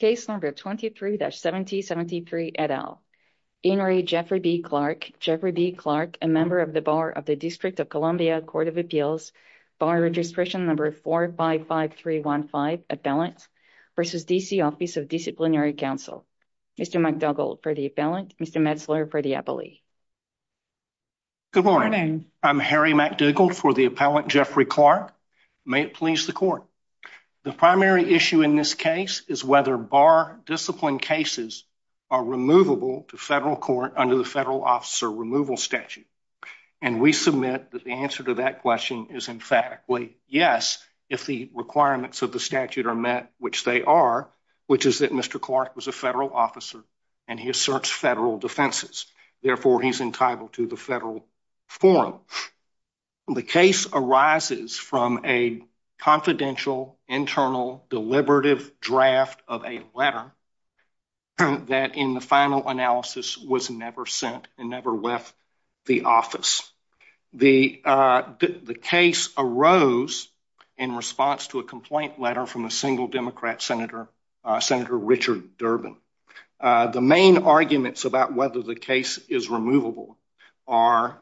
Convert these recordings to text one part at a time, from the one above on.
Case number 23-7073 et al. Deanery Jeffrey B. Clark, Jeffrey B. Clark, a member of the Bar of the District of Columbia Court of Appeals, Bar Registration Number 455315, Appellant, v. D.C. Office of Disciplinary Counsel. Mr. McDougald for the appellant, Mr. Metzler for the appellee. Good morning, I'm Harry McDougald for the appellant Jeffrey Clark. May it please the court. The primary issue in this case is whether bar discipline cases are removable to federal court under the federal officer removal statute. And we submit that the answer to that question is in fact, yes, if the requirements of the statute are met, which they are, which is that Mr. Clark was a federal officer and he asserts federal defenses, therefore he's entitled to the federal form. The case arises from a confidential, internal, deliberative draft of a letter that in the final analysis was never sent and never left the office. The case arose in response to a complaint letter from a single Democrat Senator, Senator Richard Durbin. The main arguments about whether the case is removable are,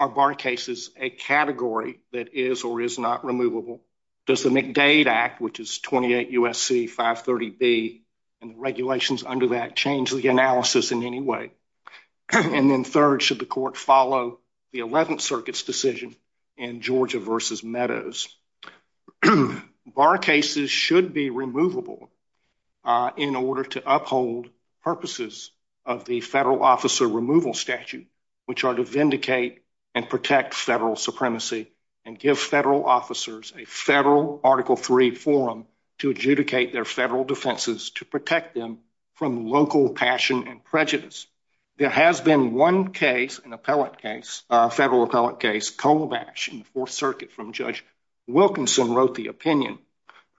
are bar cases a category that is or is not removable? Does the McDade Act, which is 28 U.S.C. 530B and the regulations under that change the analysis in any way? And then third, should the court follow the 11th Circuit's decision in Georgia v. Meadows? Bar cases should be removable in order to uphold purposes of the federal officer removal statute, which are to vindicate and protect federal supremacy and give federal officers a federal Article III form to adjudicate their federal defenses to protect them from local passion and prejudice. There has been one case, an appellate case, a federal appellate case, Colabash in Fourth Wilkinson wrote the opinion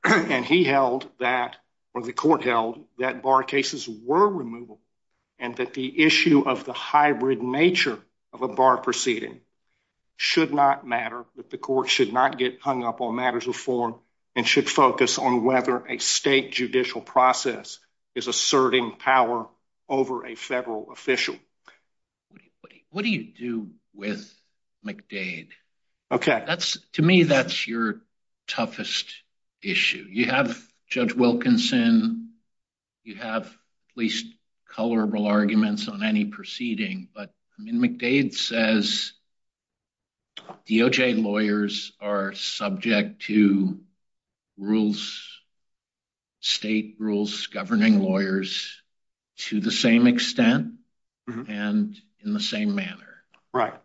and he held that, or the court held, that bar cases were removable and that the issue of the hybrid nature of a bar proceeding should not matter, that the court should not get hung up on matters of form and should focus on whether a state judicial process is asserting power over a federal official. What do you do with McDade? Okay. That's, to me, that's your toughest issue. You have Judge Wilkinson, you have at least colorable arguments on any proceeding, but McDade says DOJ lawyers are subject to rules, state rules governing lawyers to the same extent and in the same manner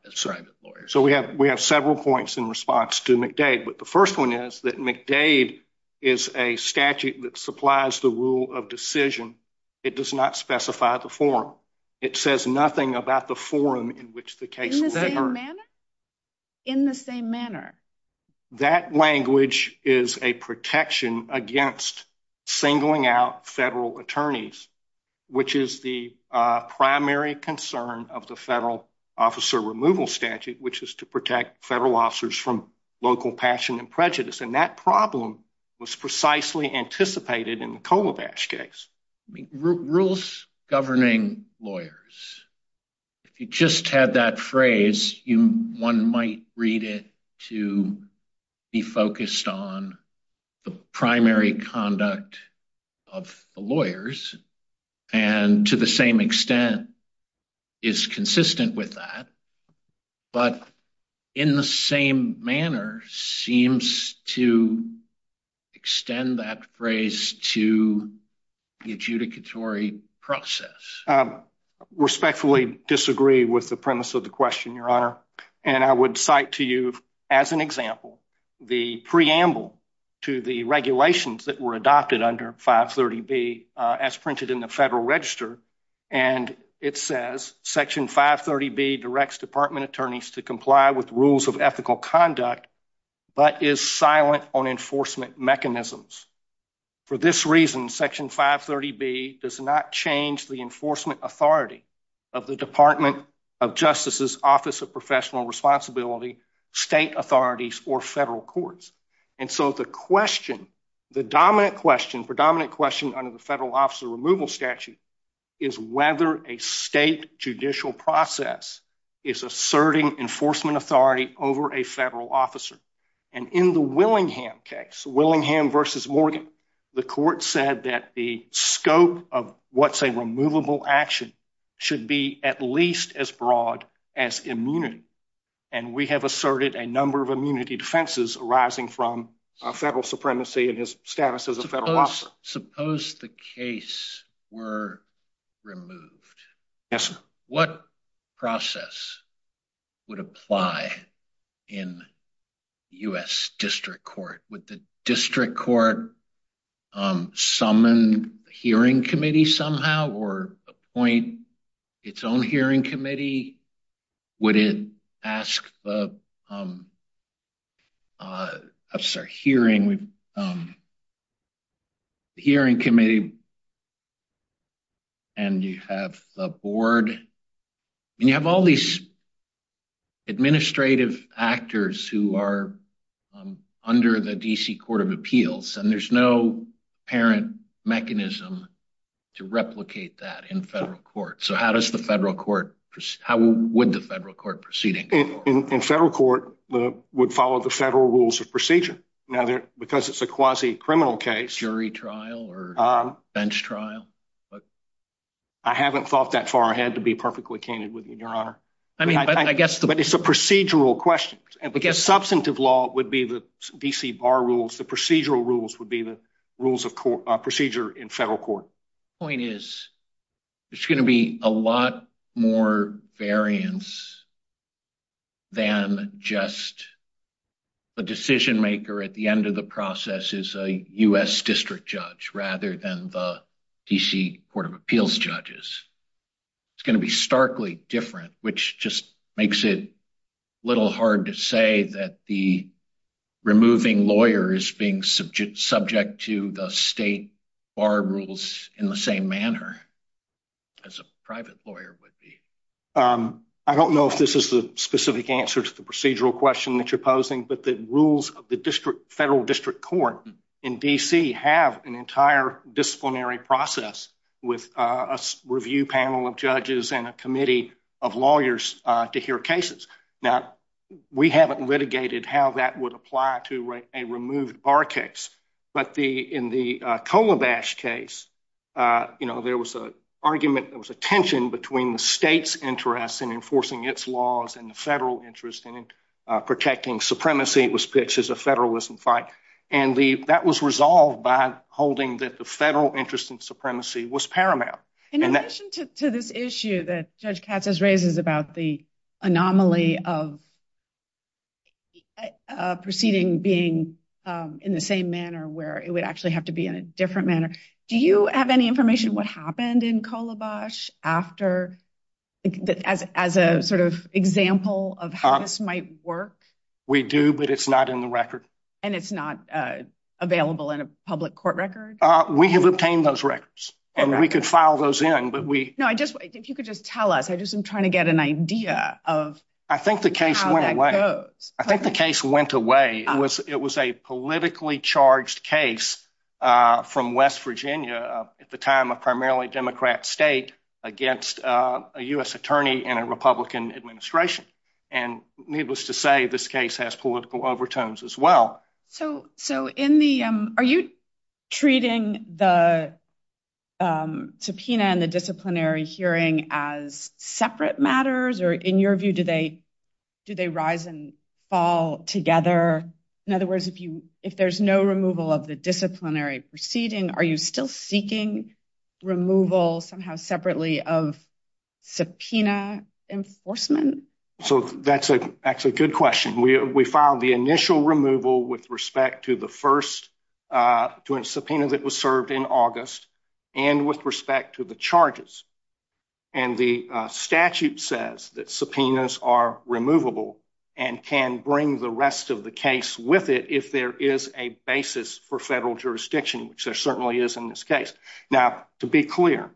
as private lawyers. So we have several points in response to McDade, but the first one is that McDade is a statute that supplies the rule of decision. It does not specify the form. It says nothing about the form in which the case is heard. In the same manner? That language is a protection against singling out federal attorneys, which is the primary concern of the federal officer removal statute, which is to protect federal officers from local passion and prejudice. And that problem was precisely anticipated in the Colopash case. Rules governing lawyers, if you just had that phrase, one might read it to be focused on the primary conduct of the lawyers and to the same extent is consistent with that, but in the same manner seems to extend that phrase to the adjudicatory process. I respectfully disagree with the premise of the question, Your Honor, and I would cite to you as an example the preamble to the regulations that were adopted under 530B as printed in the Federal Register, and it says Section 530B directs department attorneys to comply with rules of ethical conduct but is silent on enforcement mechanisms. For this reason, Section 530B does not change the enforcement authority of the Department of Justice's Office of Professional Responsibility, state authorities, or federal courts. And so the question, the dominant question, predominant question under the Federal Officer Removal Statute is whether a state judicial process is asserting enforcement authority over a federal officer. And in the Willingham case, Willingham versus Morgan, the court said that the scope of what's a removable action should be at least as broad as immunity. And we have asserted a number of immunity defenses arising from federal supremacy and his status as a federal officer. Suppose the case were removed, what process would apply in U.S. District Court? Would the District Court summon a hearing committee somehow or appoint its own hearing committee? Would it ask the, I'm sorry, hearing committee and you have the board, and you have all these administrative actors who are under the D.C. Court of Appeals, and there's no apparent mechanism to replicate that in federal court. So how does the federal court, how would the federal court proceed? In federal court, it would follow the federal rules of procedure. Now, because it's a quasi-criminal case. Jury trial or bench trial? I haven't thought that far ahead to be perfectly keen with you, Your Honor. I mean, but I guess the... But it's a procedural question. The substantive law would be the D.C. bar rules. The procedural rules would be the rules of procedure in federal court. Point is, there's going to be a lot more variance than just the decision maker at the end of the process is a U.S. District Judge rather than the D.C. Court of Appeals judges. It's going to be starkly different, which just makes it a little hard to say that the removing lawyer is being subject to the state bar rules in the same manner as a private lawyer would be. I don't know if this is the specific answer to the procedural question that you're posing, but the rules of the federal district court in D.C. have an entire disciplinary process with a review panel of judges and a committee of lawyers to hear cases. Now, we haven't litigated how that would apply to a removed bar case, but in the Kolobash case, there was an argument, there was a tension between the state's interest in enforcing its laws and the federal interest in protecting supremacy. It was pitched as a federalism fight, and that was resolved by holding that the federal interest in supremacy was paramount. In addition to this issue that Judge Katz has raised about the anomaly of proceeding being in the same manner where it would actually have to be in a different manner, do you have any information what happened in Kolobash after, as a sort of example of how this might work? We do, but it's not in the record. And it's not available in a public court record? We have obtained those records, and we could file those in, but we- No, I think you could just tell us. I just am trying to get an idea of how that goes. I think the case went away. I think the case went away. It was a politically charged case from West Virginia, at the time a primarily Democrat state, against a U.S. attorney in a Republican administration. And needless to say, this case has political overtones as well. So are you treating the subpoena and the disciplinary hearing as separate matters? Or in your view, do they rise and fall together? In other words, if there's no removal of the disciplinary proceeding, are you still seeking removal somehow separately of subpoena enforcement? So that's actually a good question. We filed the initial removal with respect to the first subpoena that was served in August and with respect to the charges. And the statute says that subpoenas are removable and can bring the rest of the case with it if there is a basis for federal jurisdiction, which there certainly is in this case. Now, to be clear,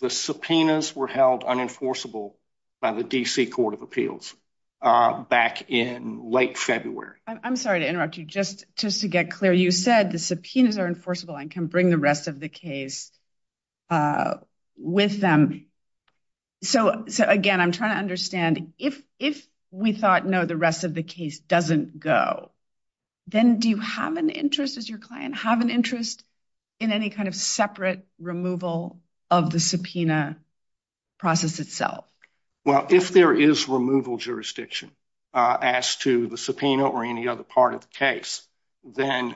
the subpoenas were held unenforceable by the D.C. Court of Appeals back in late February. I'm sorry to interrupt you. Just to get clear, you said the subpoenas are enforceable and can bring the rest of the case with them. So again, I'm trying to understand, if we thought, no, the rest of the case doesn't go, then do you have an interest as your client, have an interest in any kind of separate removal of the subpoena process itself? Well, if there is removal jurisdiction as to the subpoena or any other part of the case, then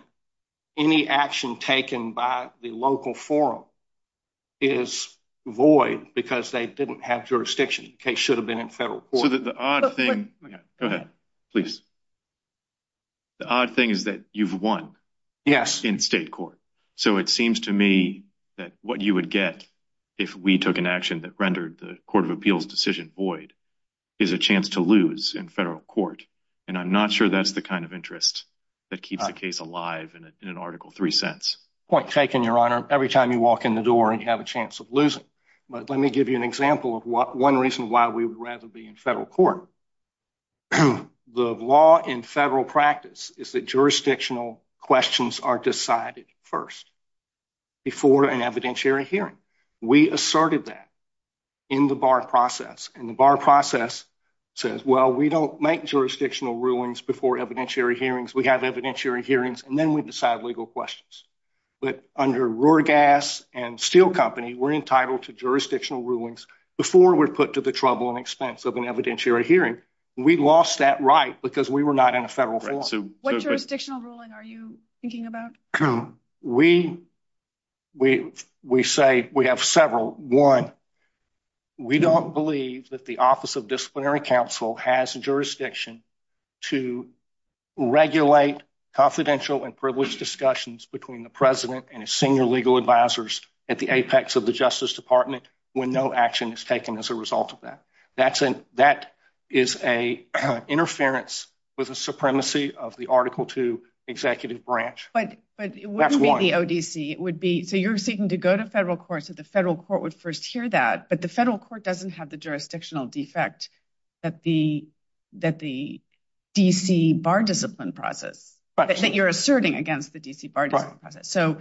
any action taken by the local forum is void because they didn't have jurisdiction. The case should have been in federal court. So the odd thing is that you've won in state court. So it seems to me that what you would get if we took an action that rendered the Court of Appeals decision void is a chance to lose in federal court, and I'm not sure that's the kind of interest that keeps the case alive in an Article III sense. Point taken, Your Honor. Every time you walk in the door, you have a chance of losing. But let me give you an example of one reason why we would rather be in federal court. The law in federal practice is that jurisdictional questions are decided first before an evidentiary hearing. We asserted that in the bar process. And the bar process says, well, we don't make jurisdictional rulings before evidentiary hearings. We have evidentiary hearings, and then we decide legal questions. But under Ruorgas and Steel Company, we're entitled to jurisdictional rulings before we're put to the troubling expense of an evidentiary hearing. We lost that right because we were not in a federal court. What jurisdictional ruling are you thinking about? We say we have several. One, we don't believe that the Office of Disciplinary Counsel has a jurisdiction to regulate confidential and privileged discussions between the president and his senior legal advisors at the apex of the Justice Department when no action is taken as a result of that. That is an interference with the supremacy of the Article II executive branch. But it wouldn't be the ODC. So you're seeking to go to federal courts if the federal court would first hear that, but the federal court doesn't have the jurisdictional defect that the D.C. Bar Discipline process, that you're asserting against the D.C. Bar Discipline process. So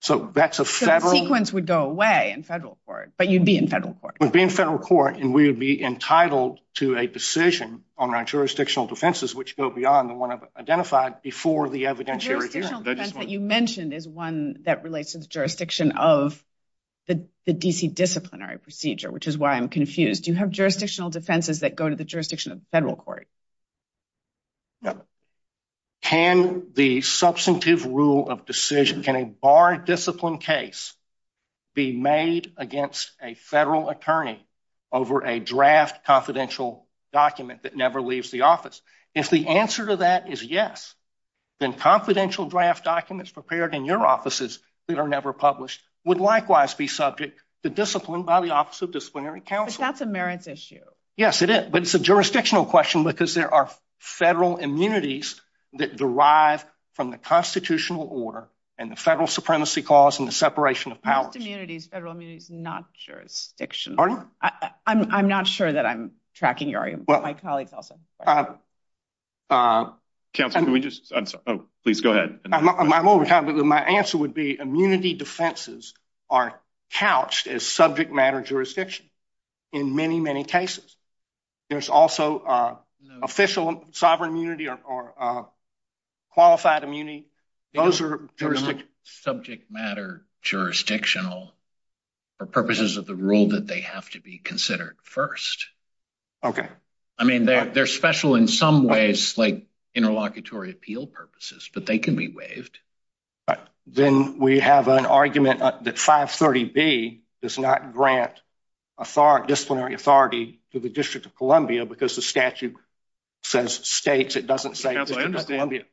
the sequence would go away in federal court, but you'd be in federal court. We'd be in federal court, and we would be entitled to a decision on our jurisdictional defenses, which go beyond the one I've identified before the evidentiary hearing. The jurisdictional defense that you mentioned is one that relates to the jurisdiction of the D.C. Disciplinary procedure, which is why I'm confused. You have jurisdictional defenses that go to the jurisdiction of the federal court. Can the substantive rule of decision, can a Bar Discipline case be made against a federal attorney over a draft confidential document that never leaves the office? If the answer to that is yes, then confidential draft documents prepared in your offices that are never published would likewise be subject to discipline by the Office of Disciplinary Counsel. It's not the merits issue. Yes, it is. But it's a jurisdictional question because there are federal immunities that derive from the constitutional order and the federal supremacy clause and the separation of powers. Federal immunity is not jurisdictional. Pardon? I'm not sure that I'm tracking you. I apologize. Counselor, can we just, please go ahead. My answer would be immunity defenses are couched as subject matter jurisdiction in many, many cases. There's also official sovereign immunity or qualified immunity. Those are subject matter jurisdictional for purposes of the rule that they have to be considered first. Okay. I mean, they're special in some ways, like interlocutory appeal purposes, but they can be waived. Then we have an argument that 530B does not grant disciplinary authority to the District of Columbia because the statute says states, it doesn't say Columbia.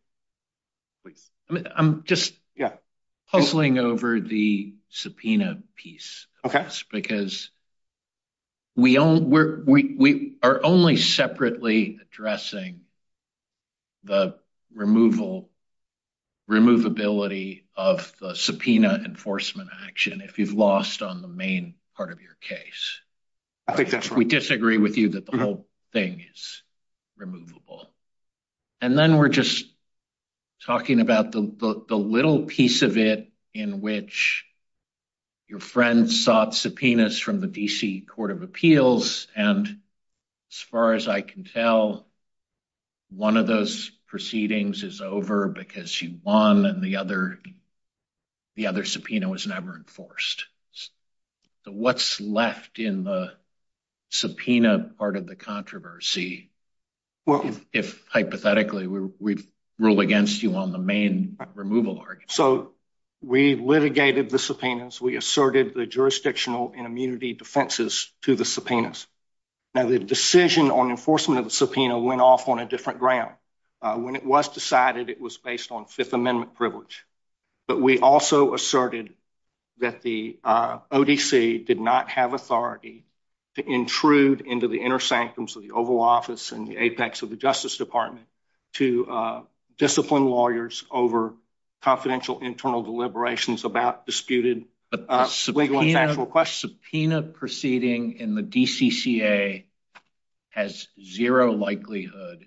I'm just puzzling over the subpoena piece because we are only separately addressing the removability of the subpoena enforcement action if you've lost on the main part of your case. We disagree with you that the whole thing is removable. And then we're just talking about the little piece of it in which your friend sought subpoenas from the D.C. Court of Appeals. And as far as I can tell, one of those proceedings is over because you won and the other subpoena was never enforced. What's left in the subpoena part of the controversy? Well, hypothetically, we rule against you on the main removal argument. So we litigated the subpoenas. We asserted the jurisdictional and immunity defenses to the subpoenas. Now, the decision on enforcement of the subpoena went off on a different ground. When it was decided, it was based on Fifth Amendment privilege. But we also asserted that the ODC did not have authority to intrude into the inner sanctums of the Oval Office and the apex of the Justice Department to discipline lawyers over confidential internal deliberations about disputed legal and factual questions. Subpoena proceeding in the D.C.C.A. has zero likelihood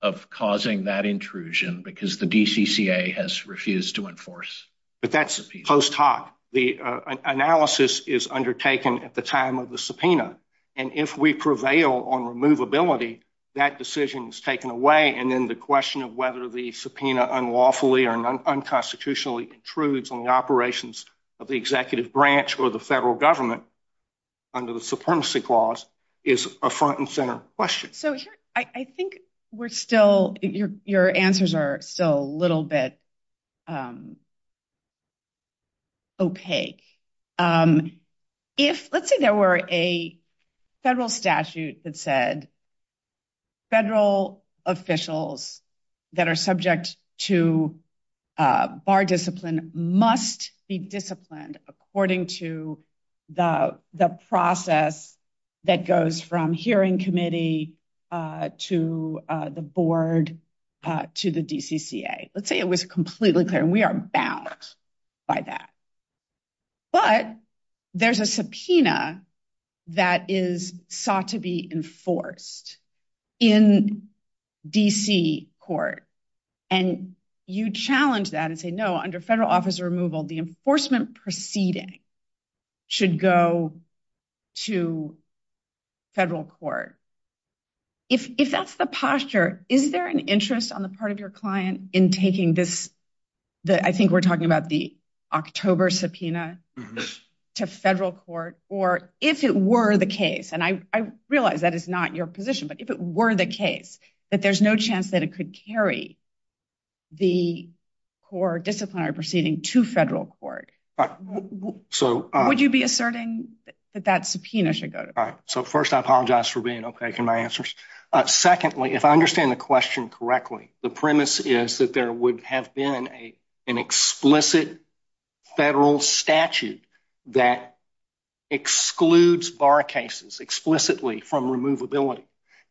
of causing that intrusion because the D.C.C.A. has refused to enforce. But that's post hoc. The analysis is undertaken at the time of the subpoena. And if we prevail on removability, that decision is taken away. And then the question of whether the subpoena unlawfully or unconstitutionally intrudes on the operations of the executive branch or the federal government under the Supremacy Clause is a front and center question. So I think we're still, your answers are still a little bit opaque. If, let's say there were a federal statute that said federal officials that are subject to bar discipline must be disciplined according to the process that goes from hearing committee to the board to the D.C.C.A. Let's say it was completely clear. We are bound by that. But there's a subpoena that is sought to be enforced in D.C.C.A. And you challenge that and say, no, under federal officer removal, the enforcement proceeding should go to federal court. If that's the posture, is there an interest on the part of your client in taking this, I think we're talking about the October subpoena to federal court, or if it were the case, and I realize that is not your position, but if it were the case, that there's no chance that it could carry the core disciplinary proceeding to federal court, would you be asserting that that subpoena should go to federal court? So first, I apologize for being opaque in my answers. Secondly, if I understand the question correctly, the premise is that there would have been an explicit federal statute that excludes bar cases explicitly from removability.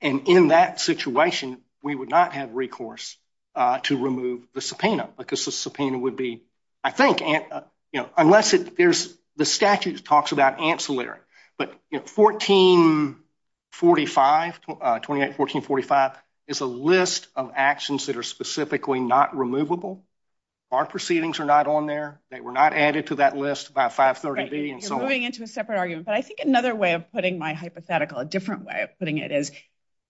And in that situation, we would not have recourse to remove the subpoena because the subpoena would be, I think, you know, unless there's the statute talks about ancillary. But 1445, 281445, is a list of actions that are specifically not removable. Our proceedings are not on there. They were not added to that list by 530B. You're going into a separate argument, but I think another way of putting my hypothetical, a different way of putting it is,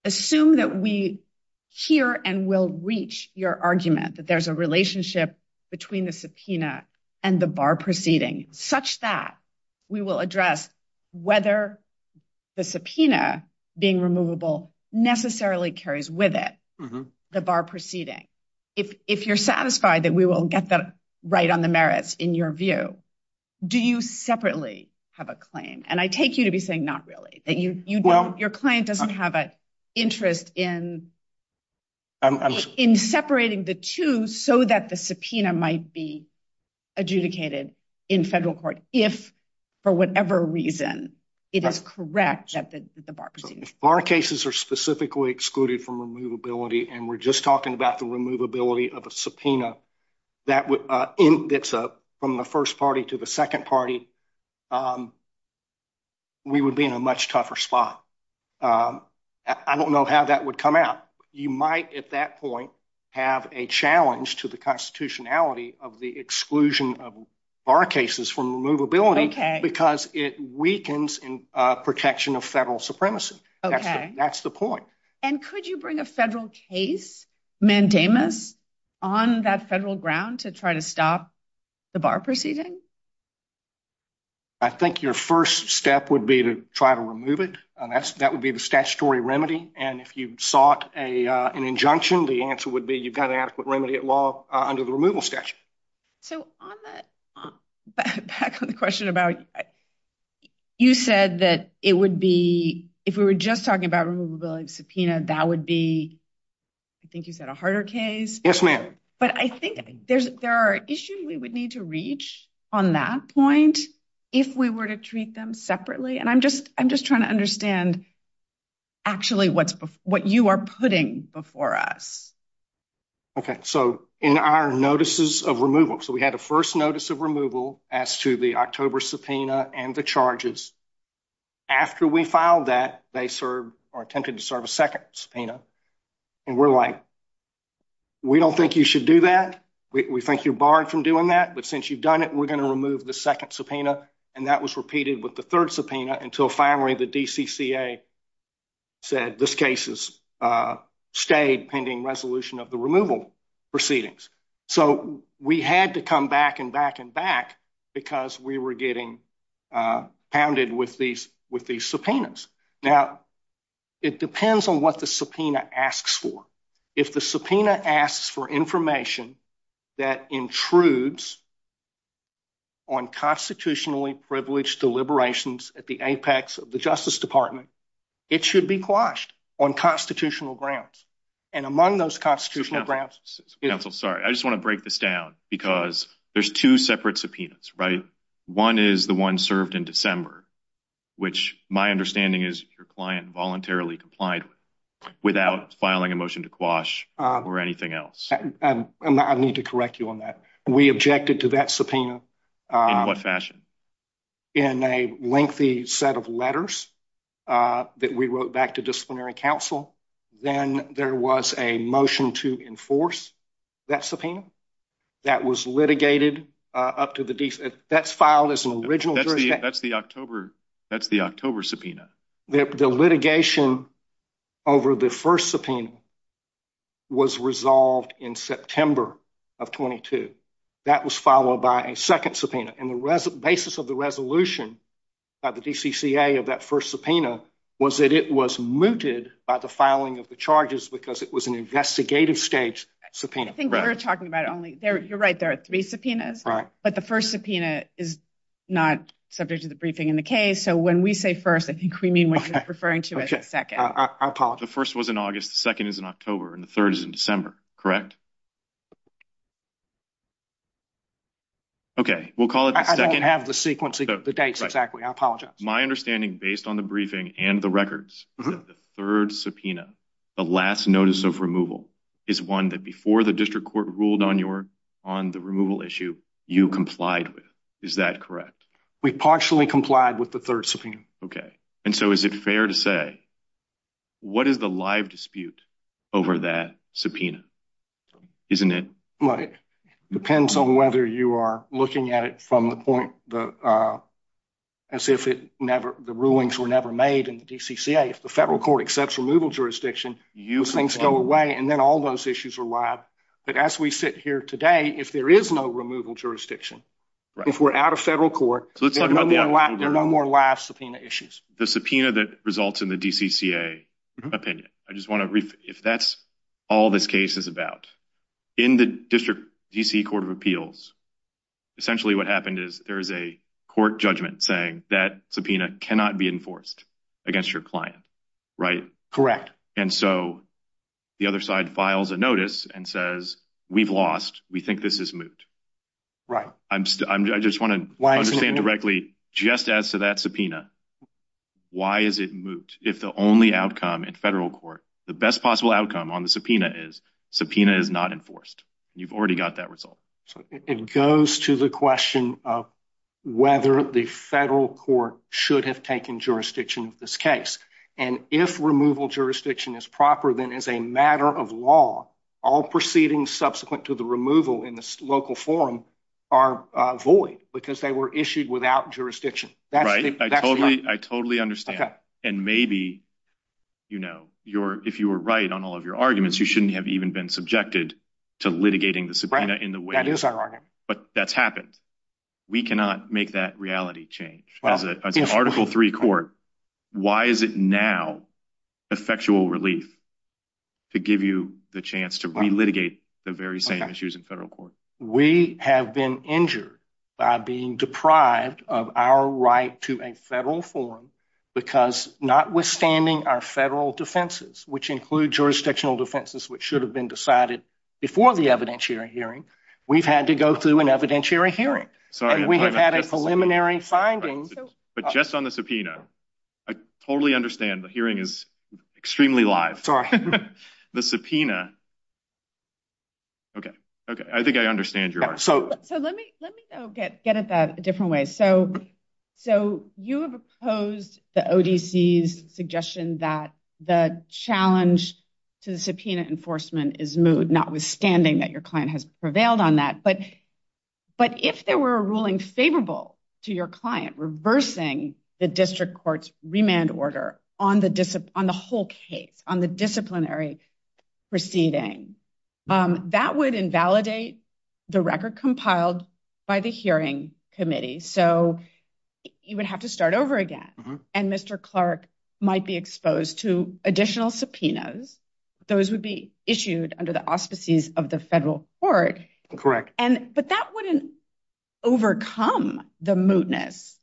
assume that we hear and will reach your argument that there's a relationship between the subpoena and the bar proceeding, such that we will address whether the subpoena being removable necessarily carries with it the bar proceeding. If you're satisfied that we will get that right on the merits in your view, do you separately have a claim? And I take you to be saying not really. Your claim doesn't have an interest in separating the two so that the subpoena might be adjudicated in federal court if, for whatever reason, it is correct that the bar proceeds. If bar cases are specifically excluded from removability, and we're just talking about the removability of a subpoena that's from the first party to the second party, we would be in a much tougher spot. I don't know how that would come out. You might, at that point, have a challenge to the constitutionality of the exclusion of bar cases from removability because it weakens protection of federal supremacy. That's the point. And could you bring a federal case, mandamus, on that federal ground to try to stop the bar proceeding? I think your first step would be to try to remove it, and that would be the statutory remedy. And if you sought an injunction, the answer would be you've got an adequate remedy at law under the removal statute. So, back on the question about, you said that it would be, if we were just talking about removability of a subpoena, that would be, I think you said a harder case? Yes, ma'am. But I think there are issues we would need to reach on that point if we were to treat them separately. And I'm just trying to understand, actually, what you are putting before us. Okay. So, in our notices of removal, so we had a first notice of removal as to the October subpoena and the charges. After we filed that, they served, or attempted to serve a second subpoena. And we're like, we don't think you should do that. We think you're barred from doing that. But since you've done it, we're going to remove the second subpoena. And that was repeated with the third subpoena until finally the DCCA said this case stayed pending resolution of the removal proceedings. So, we had to come back and back and back because we were getting pounded with these subpoenas. Now, it depends on what the subpoena asks for. If the subpoena asks for information that intrudes on constitutionally privileged deliberations at the apex of the Justice Department, it should be quashed on constitutional grounds. And among those constitutional grounds... Counsel, sorry. I just want to break this down because there's two separate subpoenas, right? One is the one served in December, which my understanding is your client voluntarily complied with without filing a motion to quash or anything else. And I need to correct you on that. We objected to that subpoena. In what fashion? In a lengthy set of letters that we wrote back to disciplinary counsel. Then there was a motion to enforce that subpoena that was litigated up to the... That's filed as an original jury... That's the October subpoena. The litigation over the first subpoena was resolved in September of 22. That was followed by a second subpoena. And the basis of the resolution by the DCCA of that first subpoena was that it was mooted by the filing of the charges because it was an investigative stage subpoena. I think we were talking about only... You're right, there are three subpoenas. Right. But the first subpoena is not subject to the briefing in the case. So when we say first, I think we mean when you're referring to it as second. I apologize. The first was in August, the second is in October, and the third is in December, correct? Okay, we'll call it the second... I don't have the sequence, the dates exactly. I apologize. My understanding based on the briefing and the records of the third subpoena, the last notice of removal, is one that before the district court ruled on the removal issue, you complied with. Is that correct? We partially complied with the third subpoena. Okay. And so is it fair to say, what is the live dispute over that subpoena? Isn't it? Well, it depends on whether you are looking at it from the point as if the rulings were never made in the DCCA. If the federal court accepts removal jurisdiction, things go away and then all those issues are live. But as we sit here today, if there is no removal jurisdiction, if we're out of federal court, there are no more live subpoena issues. The subpoena that results in the DCCA opinion. I just want to, if that's all this case is about, in the district DC Court of Appeals, essentially what happened is there is a court judgment saying that subpoena cannot be enforced against your client, right? Correct. And so the other side files a notice and says, we've lost, we think this is moot. Right. I just want to understand directly, just as to that subpoena, why is it moot? If the only outcome in federal court, the best possible outcome on the subpoena is, subpoena is not enforced. You've already got that result. So it goes to the question of whether the federal court should have taken jurisdiction of this case. And if removal jurisdiction is proper, then as a matter of law, all proceedings subsequent to the removal in this local forum are void because they were issued without jurisdiction. I totally understand. And maybe, you know, if you were right on all of your arguments, you shouldn't have even been subjected to litigating the subpoena in the way, but that's happened. We cannot make that reality change. Article three court. Why is it now the factual relief to give you the chance to re-litigate the very same issues in federal court? We have been injured by being deprived of our right to a federal forum because notwithstanding our federal defenses, which include jurisdictional defenses, which should have been decided before the evidentiary hearing, we've had to go through an evidentiary hearing. We have had a preliminary findings. But just on the subpoena, I totally understand the hearing is extremely live. The subpoena. Okay, okay. I think I understand. So let me get at that a different way. So you have opposed the ODC's suggestion that the challenge to the subpoena enforcement is moot, notwithstanding that your client has prevailed on that. But if there were a ruling favorable to your client reversing the district court's remand order on the whole case, on the disciplinary proceeding, that would invalidate the record compiled by the hearing committee. So you would have to start over again. And Mr. Clark might be exposed to additional subpoenas. Those would be issued under the auspices of the federal court. Correct. But that wouldn't overcome the mootness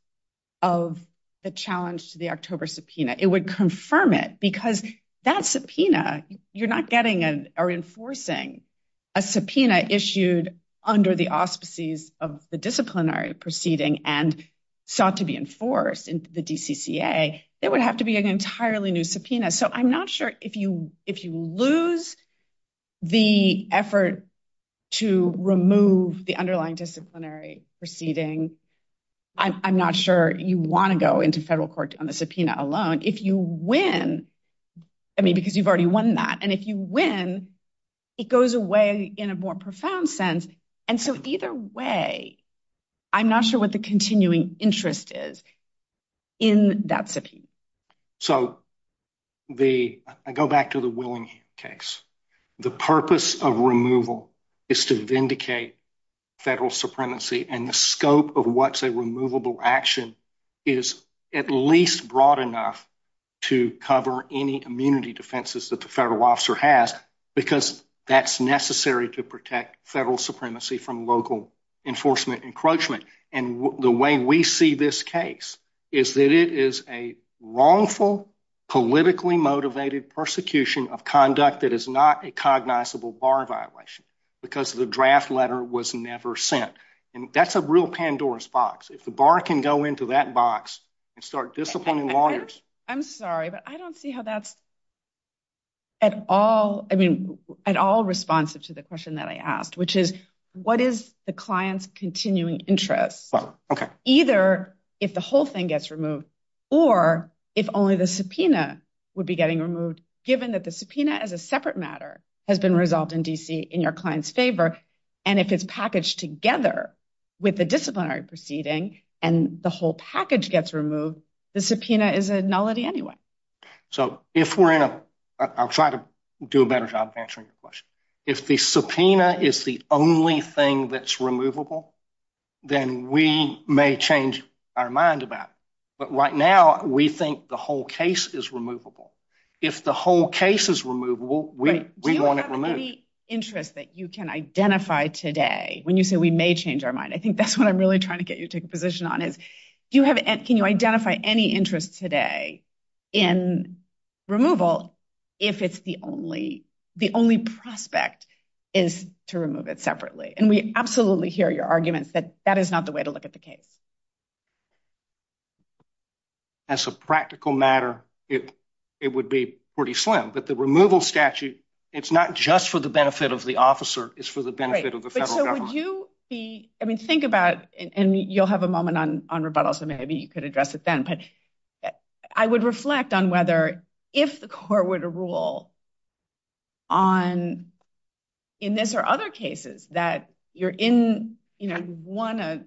of the challenge to the October subpoena. It would confirm it. Because that subpoena, you're not getting or enforcing a subpoena issued under the auspices of the disciplinary proceeding and sought to be enforced in the DCCA. It would have to be an entirely new subpoena. So I'm not sure if you lose the effort to remove the underlying disciplinary proceeding. I'm not sure if you want to go into federal court on the subpoena alone. If you win, I mean, because you've already won that. And if you win, it goes away in a more profound sense. And so either way, I'm not sure what the continuing interest is in that subpoena. So I go back to the Willing case. The purpose of removal is to vindicate federal supremacy. And the scope of what's a removable action is at least broad enough to cover any immunity defenses that the federal officer has, because that's necessary to protect federal supremacy from local enforcement encroachment. And the way we see this case is that it is a wrongful, politically motivated persecution of conduct that is not a cognizable bar violation, because the draft letter was never sent. And that's a real Pandora's box. If the bar can go into that box and start disciplining lawyers. I'm sorry, but I don't see how that's at all responsive to the question that I asked, what is the client's continuing interest? Either if the whole thing gets removed, or if only the subpoena would be getting removed, given that the subpoena as a separate matter has been resolved in DC in your client's favor. And if it's packaged together with the disciplinary proceeding, and the whole package gets removed, the subpoena is a nullity anyway. So if we're in, I'll try to do a better job answering the question. If the subpoena is the only thing that's removable, then we may change our mind about it. But right now, we think the whole case is removable. If the whole case is removable, we want it removed. Do you have any interest that you can identify today when you say we may change our mind? I think that's what I'm really trying to get you to take a position on is, can you identify any interest today in removal if the only prospect is to remove it separately? And we absolutely hear your arguments that that is not the way to look at the case. As a practical matter, it would be pretty slim. But the removal statute, it's not just for the benefit of the officer, it's for the benefit of the federal government. I mean, think about it. And you'll have a moment on rebuttal, so maybe you could address it then. But I would reflect on whether, if the court were to rule on, in this or other cases, that you're in, you know, one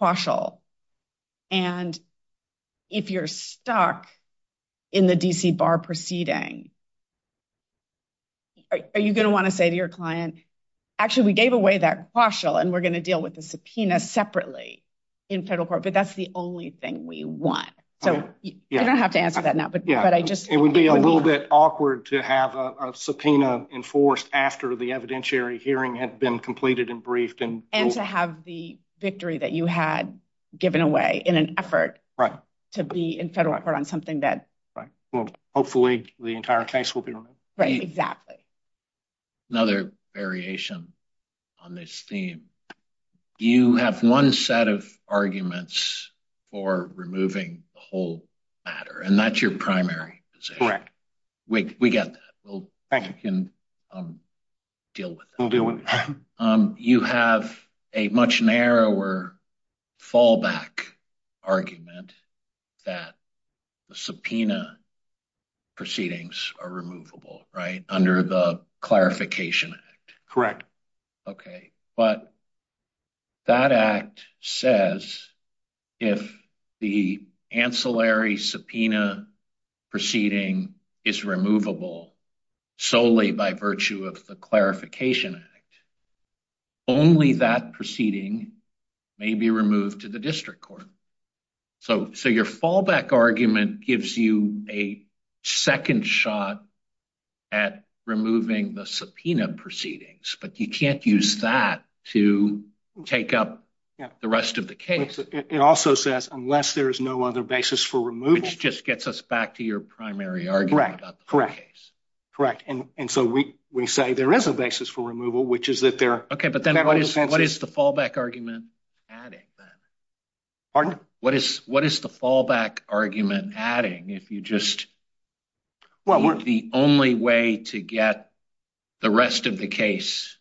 quashal, and if you're stuck in the DC bar proceeding, are you going to want to say to your client, actually, we gave away that quashal, and we're going to deal with the subpoena separately in federal court, but that's the only thing we want. So I don't have to answer that now, but I just... It would be a little bit awkward to have a subpoena enforced after the evidentiary hearing had been completed and briefed and... And to have the victory that you had given away in an effort... Right. To be in federal effort on something that... Hopefully, the entire case will be removed. Right, exactly. Another variation on this theme. You have one set of arguments for removing the whole matter, and that's your primary position. Correct. We get that. We'll deal with that. We'll deal with that. You have a much narrower fallback argument that the subpoena proceedings are removable, under the Clarification Act. Correct. Okay. But that act says, if the ancillary subpoena proceeding is removable solely by virtue of the Clarification Act, only that proceeding may be removed to the district court. So, your fallback argument gives you a second shot at removing the subpoena proceedings, but you can't use that to take up the rest of the case. It also says, unless there is no other basis for removal. Which just gets us back to your primary argument about the case. Correct. And so, we say there is a basis for removal, which is that there... Okay, but then what is the fallback argument adding then? Pardon? What is the fallback argument adding? If you just... Well, we're... The only way to get the rest of the case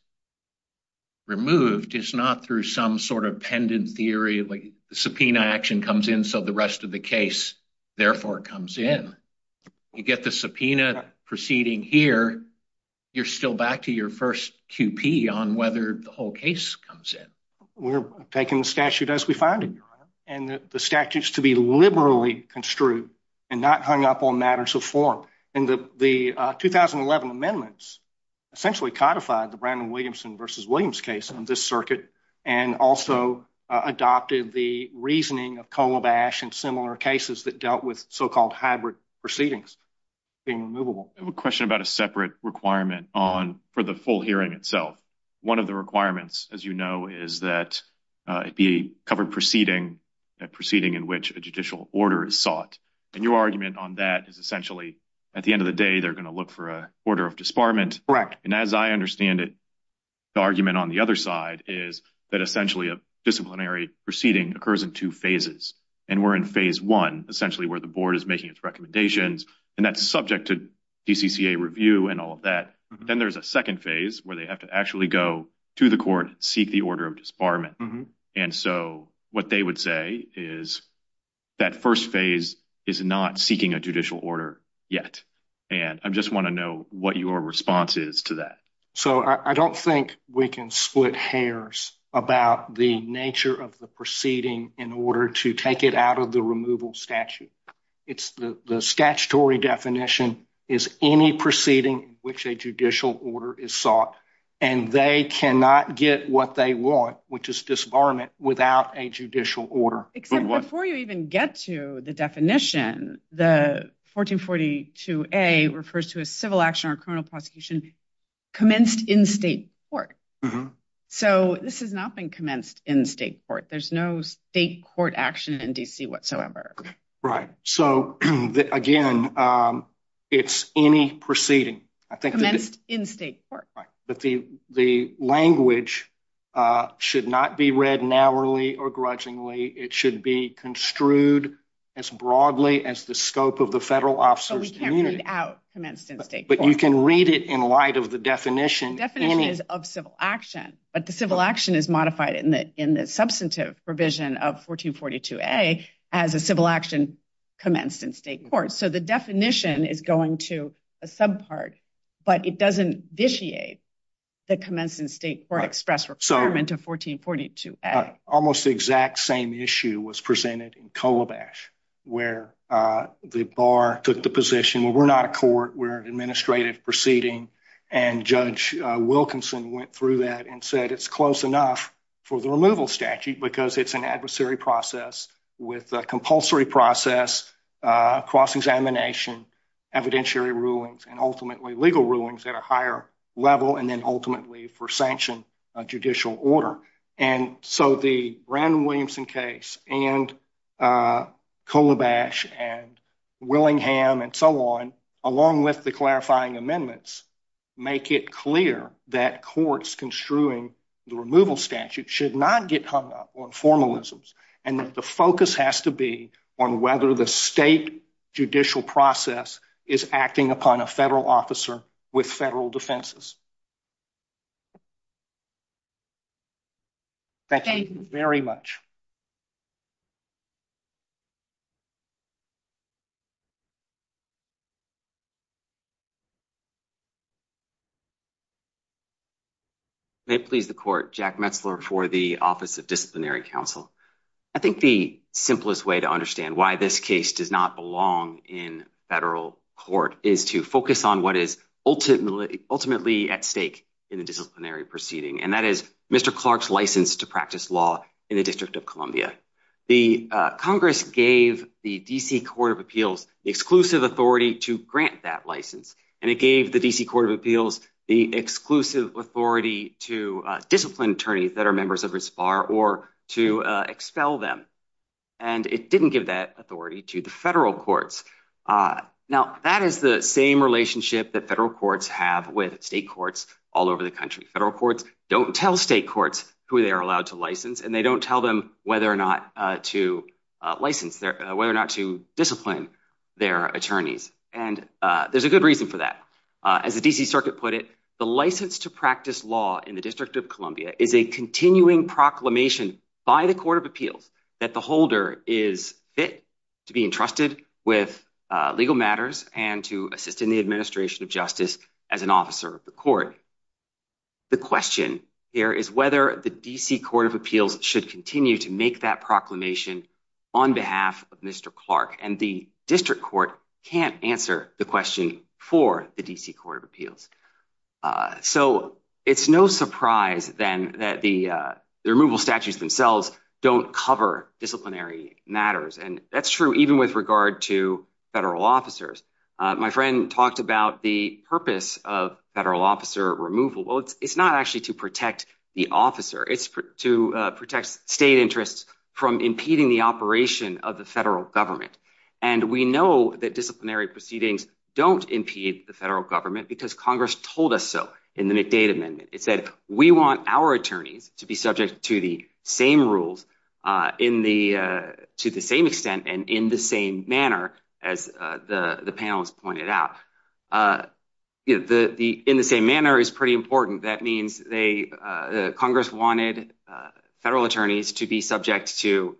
removed is not through some sort of pendant theory, like the subpoena action comes in, so the rest of the case, therefore, comes in. You get the subpoena proceeding here, you're still back to your first QP on whether the whole case comes in. We're taking the statute as we find it, and the statute is to be liberally construed and not hung up on matters of form. And the 2011 amendments essentially codified the Brandon Williamson versus Williams case on this circuit, and also adopted the reasoning of Colobash and similar cases that dealt with so-called hybrid proceedings being removable. I have a question about a separate requirement for the full hearing itself. One of the requirements, as you know, is that it be a covered proceeding, a proceeding in which a judicial order is sought. And your argument on that is essentially, at the end of the day, they're going to look for an order of disbarment. Correct. And as I understand it, the argument on the other side is that essentially a disciplinary proceeding occurs in two phases. And we're in phase one, essentially where the board is making its recommendations, and that's subject to DCCA review and all of that. Then there's a second phase where they have to actually go to the court and seek the order of disbarment. And so what they would say is that first phase is not seeking a judicial order yet. And I just want to know what your response is to that. So I don't think we can split hairs about the nature of the proceeding in order to take it out of the removal statute. It's the statutory definition is any proceeding which a judicial order is sought, and they cannot get what they want, which is disbarment, without a judicial order. Except before you even get to the definition, the 1442A refers to a civil action or criminal prosecution commenced in state court. So this has not been commenced in state court. There's no state court action in DC whatsoever. Right. So again, it's any proceeding. Commenced in state court. Right. But the language should not be read narrowly or grudgingly. It should be construed as broadly as the scope of the federal officer's duty. But we can't read out commenced in state court. But you can read it in light of the definition. The definition is of civil action, but the civil action is modified in the substantive provision of 1442A as a civil action commenced in state court. So the definition is going to a subpart, but it doesn't initiate the commenced in state court express requirement of 1442A. Almost the exact same issue was presented in Colabash, where the bar took the position, well, we're not a court. We're an administrative proceeding. And Judge Wilkinson went through that and said it's close enough for the removal statute because it's an adversary process with a compulsory process, cross-examination, evidentiary rulings, and ultimately legal rulings at a higher level and then ultimately for sanction of judicial order. And so the Brandon Williamson case and Colabash and Willingham and so on, along with the clarifying formalisms. And the focus has to be on whether the state judicial process is acting upon a federal officer with federal defenses. That's it. Very much. May it please the court. Jack Metzler for the Office of Disciplinary Counsel. I think the simplest way to understand why this case does not belong in federal court is to focus on what is ultimately at stake in a disciplinary proceeding. And that is Mr. Clark's license to practice law in the District of Columbia. The Congress gave the D.C. Court of Appeals the exclusive authority to grant that license. And it gave the D.C. Court of Appeals the exclusive authority to discipline attorneys that are members of its bar or to expel them. And it didn't give that authority to the federal courts. Now, that is the same relationship that federal courts have with state courts all over the country. Federal courts don't tell state courts who they are allowed to license, and they don't tell them whether or not to discipline their attorneys. And there's a good reason for that. As the D.C. Circuit put it, the license to practice law in the District of Columbia is a continuing proclamation by the Court of Appeals that the holder is fit to be entrusted with legal matters and to assist in the administration of justice as an officer of the court. The question here is whether the D.C. Court of Appeals should continue to make that proclamation on behalf of Mr. Clark. And the District Court can't answer the question for the D.C. Court of Appeals. So it's no surprise then that the removal statutes themselves don't cover disciplinary matters. And that's true even with regard to federal officers. My friend talked about the purpose of federal officer removal. It's not actually to protect the officer. It's to protect state interests from impeding the operation of the federal government. And we know that disciplinary proceedings don't impede the federal government because Congress told us so in the McData Amendment. It said, we want our attorneys to be subject to the same rules to the same extent and in the same manner, as the panelists pointed out. In the same manner is pretty important. That means Congress wanted federal attorneys to be subject to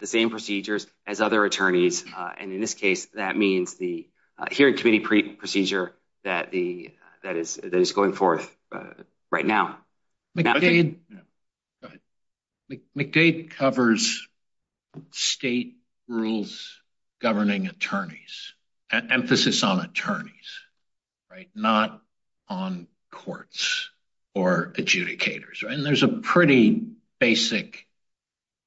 the same procedures as other attorneys. And in this case, that means the hearing committee procedure that is going forth right now. McDade covers state rules governing attorneys and emphasis on attorneys, right? Not on courts or adjudicators. And there's a pretty basic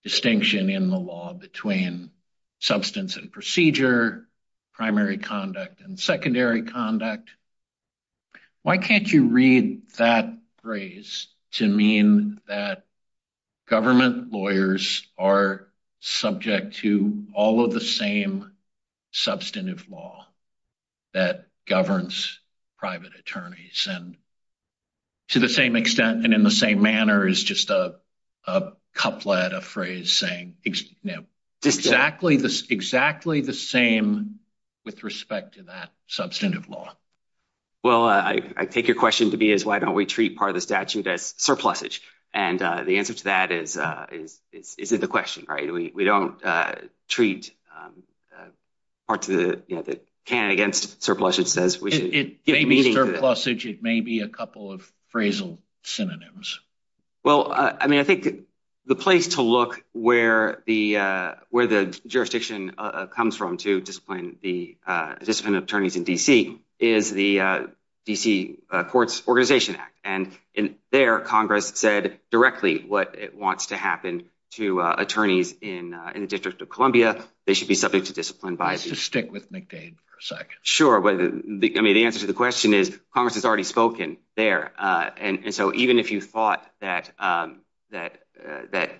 distinction in the law between substance and procedure, primary conduct and secondary conduct. Why can't you read that phrase to mean that government lawyers are subject to all of the same substantive law that governs private attorneys and to the same extent and in the same manner is just a couplet, a phrase saying exactly the same with respect to that substantive law. Well, I take your question to be is why don't we treat part of the statute as surplusage? And the answer to that is it's a question, right? We don't treat part of the can against surpluses. It may be surplusage. It may be a couple of phrasal synonyms. Well, I mean, I think the place to look where the jurisdiction comes from to discipline the discipline of attorneys in D.C. is the D.C. Courts Organization Act. And in there, Congress said directly what it wants to happen to attorneys in the District of Columbia. They should be subject to discipline bias. Just stick with McDade for a second. Sure. But the answer to the question is Congress has already spoken there. And so even if you thought that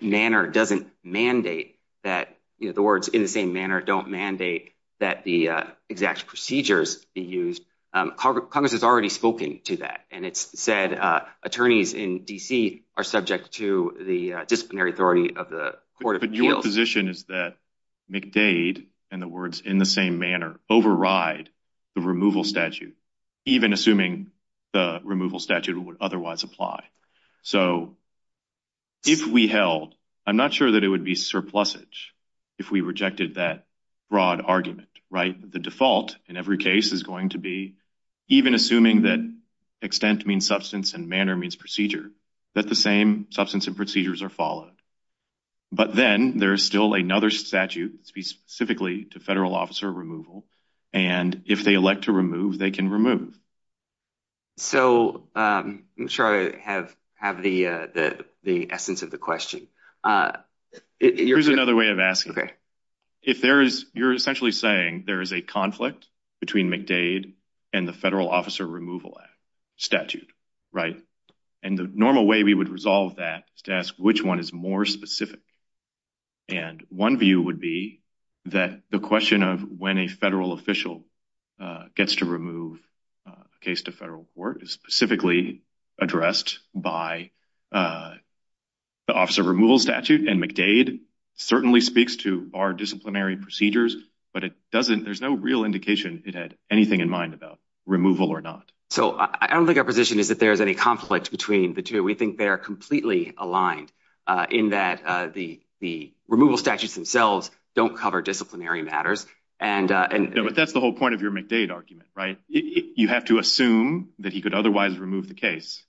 manner doesn't mandate that, you know, the words in the same manner don't mandate that the exact procedures be used, Congress has already spoken to that. And it's said attorneys in D.C. are subject to the disciplinary authority of the Court of Appeals. But your position is that McDade and the words in the same manner override the removal statute, even assuming the removal statute would otherwise apply. So if we held, I'm not sure that it would be surplusage if we rejected that broad argument, right? The default in every case is going to be even assuming that extent means substance and manner means procedure, that the same substance and procedures are followed. But then there's still another statute specifically to federal officer removal. And if they elect to remove, they can remove. So I'm sure I have the essence of the question. Here's another way of asking. OK. If there is, you're essentially saying there is a conflict between McDade and the federal officer removal statute, right? And the normal way we would resolve that is to ask which one is more specific. And one view would be that the question of when a federal official gets to remove a case to federal court is specifically addressed by the officer removal statute. And McDade certainly speaks to our disciplinary procedures. But it doesn't, there's no real indication it had anything in mind about removal or not. So I don't think our position is that there's any conflicts between the two. We think they are completely aligned in that the removal statutes themselves don't cover disciplinary matters. But that's the whole point of your McDade argument, right? You have to assume that he could otherwise remove the case.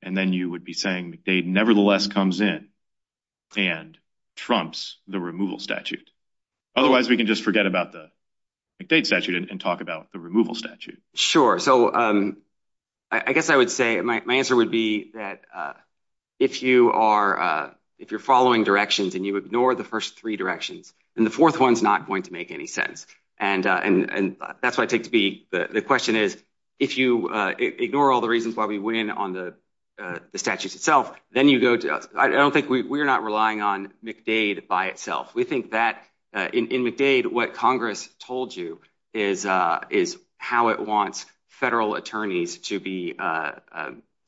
And then you would be saying McDade nevertheless comes in and trumps the removal statute. Otherwise, we can just forget about the McDade statute and talk about the removal statute. Sure. So I guess I would say my answer would be that if you're following directions and you And that's what I think the question is, if you ignore all the reasons why we win on the statutes itself, then you go to, I don't think we're not relying on McDade by itself. We think that in McDade, what Congress told you is how it wants federal attorneys to be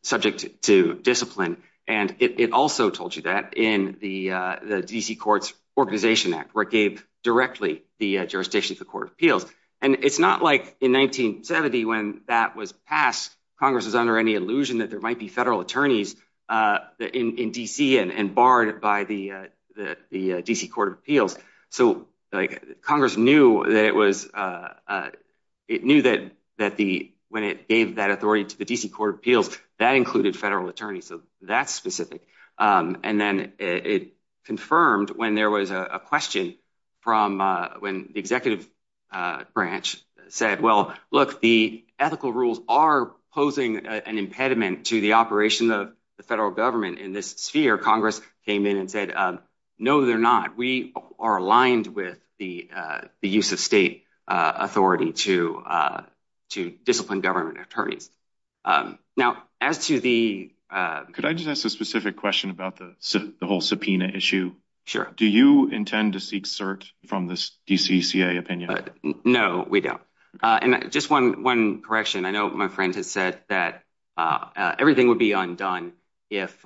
subject to discipline. And it also told you that in the DC Courts Organization Act, where it gave directly the jurisdictions of court of appeals. And it's not like in 1970, when that was passed, Congress is under any illusion that there might be federal attorneys in DC and barred by the DC Court of Appeals. So Congress knew that when it gave that authority to the DC Court of Appeals, that included federal attorneys. So that's specific. And then it confirmed when there was a question from when the executive branch said, well, look, the ethical rules are posing an impediment to the operation of the federal government in this sphere. Congress came in and said, no, they're not. We are aligned with the use of state authority to discipline government attorneys. Now, as to the... Could I just ask a specific question about the whole subpoena issue? Sure. Do you intend to seek cert from the DCCA opinion? No, we don't. And just one correction. I know my friends have said that everything would be undone if,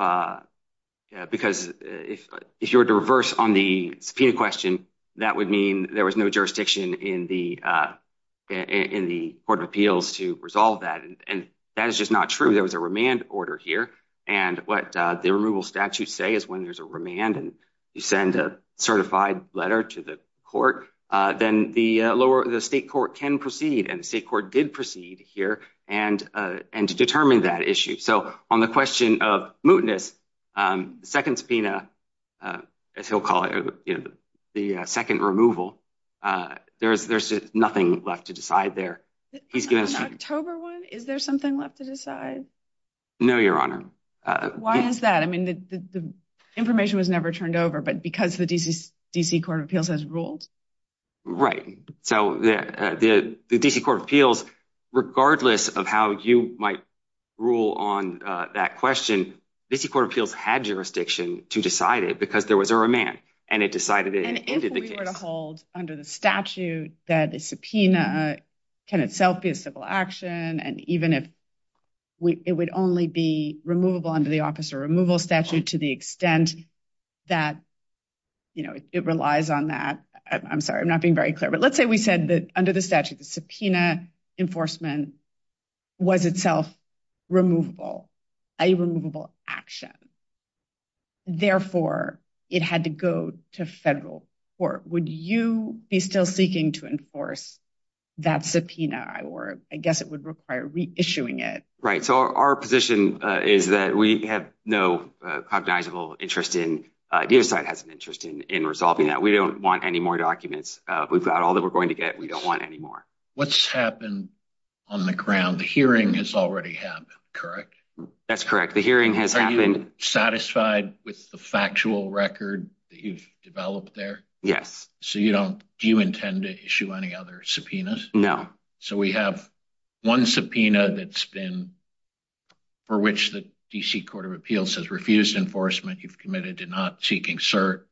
because if you were to reverse on the subpoena question, that would mean there was no jurisdiction in the Court of Appeals to resolve that. And that is just not true. There was a remand order here. And what the removal statutes say is when there's a remand and you send a certified letter to the court, then the state court can proceed. And the state court did proceed here and to determine that issue. So on the question of mootness, the second subpoena, as he'll call it, the second removal, there's nothing left to decide there. On the October one, is there something left to decide? No, Your Honor. Why is that? I mean, the information was never turned over, but because the DC Court of Appeals has ruled? Right. So the DC Court of Appeals, regardless of how you might rule on that question, DC Court of Appeals had jurisdiction to decide it because there was a remand and it decided it. If we were to hold under the statute that a subpoena can itself be a civil action, and even if it would only be removable under the officer removal statute to the extent that it relies on that, I'm sorry, I'm not being very clear, but let's say we said that under the statute, the subpoena enforcement was itself removable, a removable action. Therefore, it had to go to federal court. Would you be still seeking to enforce that subpoena, or I guess it would require reissuing it? Right. So our position is that we have no cognizable interest in, the other side has an interest in resolving that. We don't want any more documents. We've got all that we're going to get. We don't want any more. What's happened on the ground? The hearing has already happened, correct? That's correct. Are you satisfied with the factual record that you've developed there? Yes. So do you intend to issue any other subpoenas? No. So we have one subpoena that's been, for which the DC Court of Appeals has refused enforcement. You've committed to not seeking cert.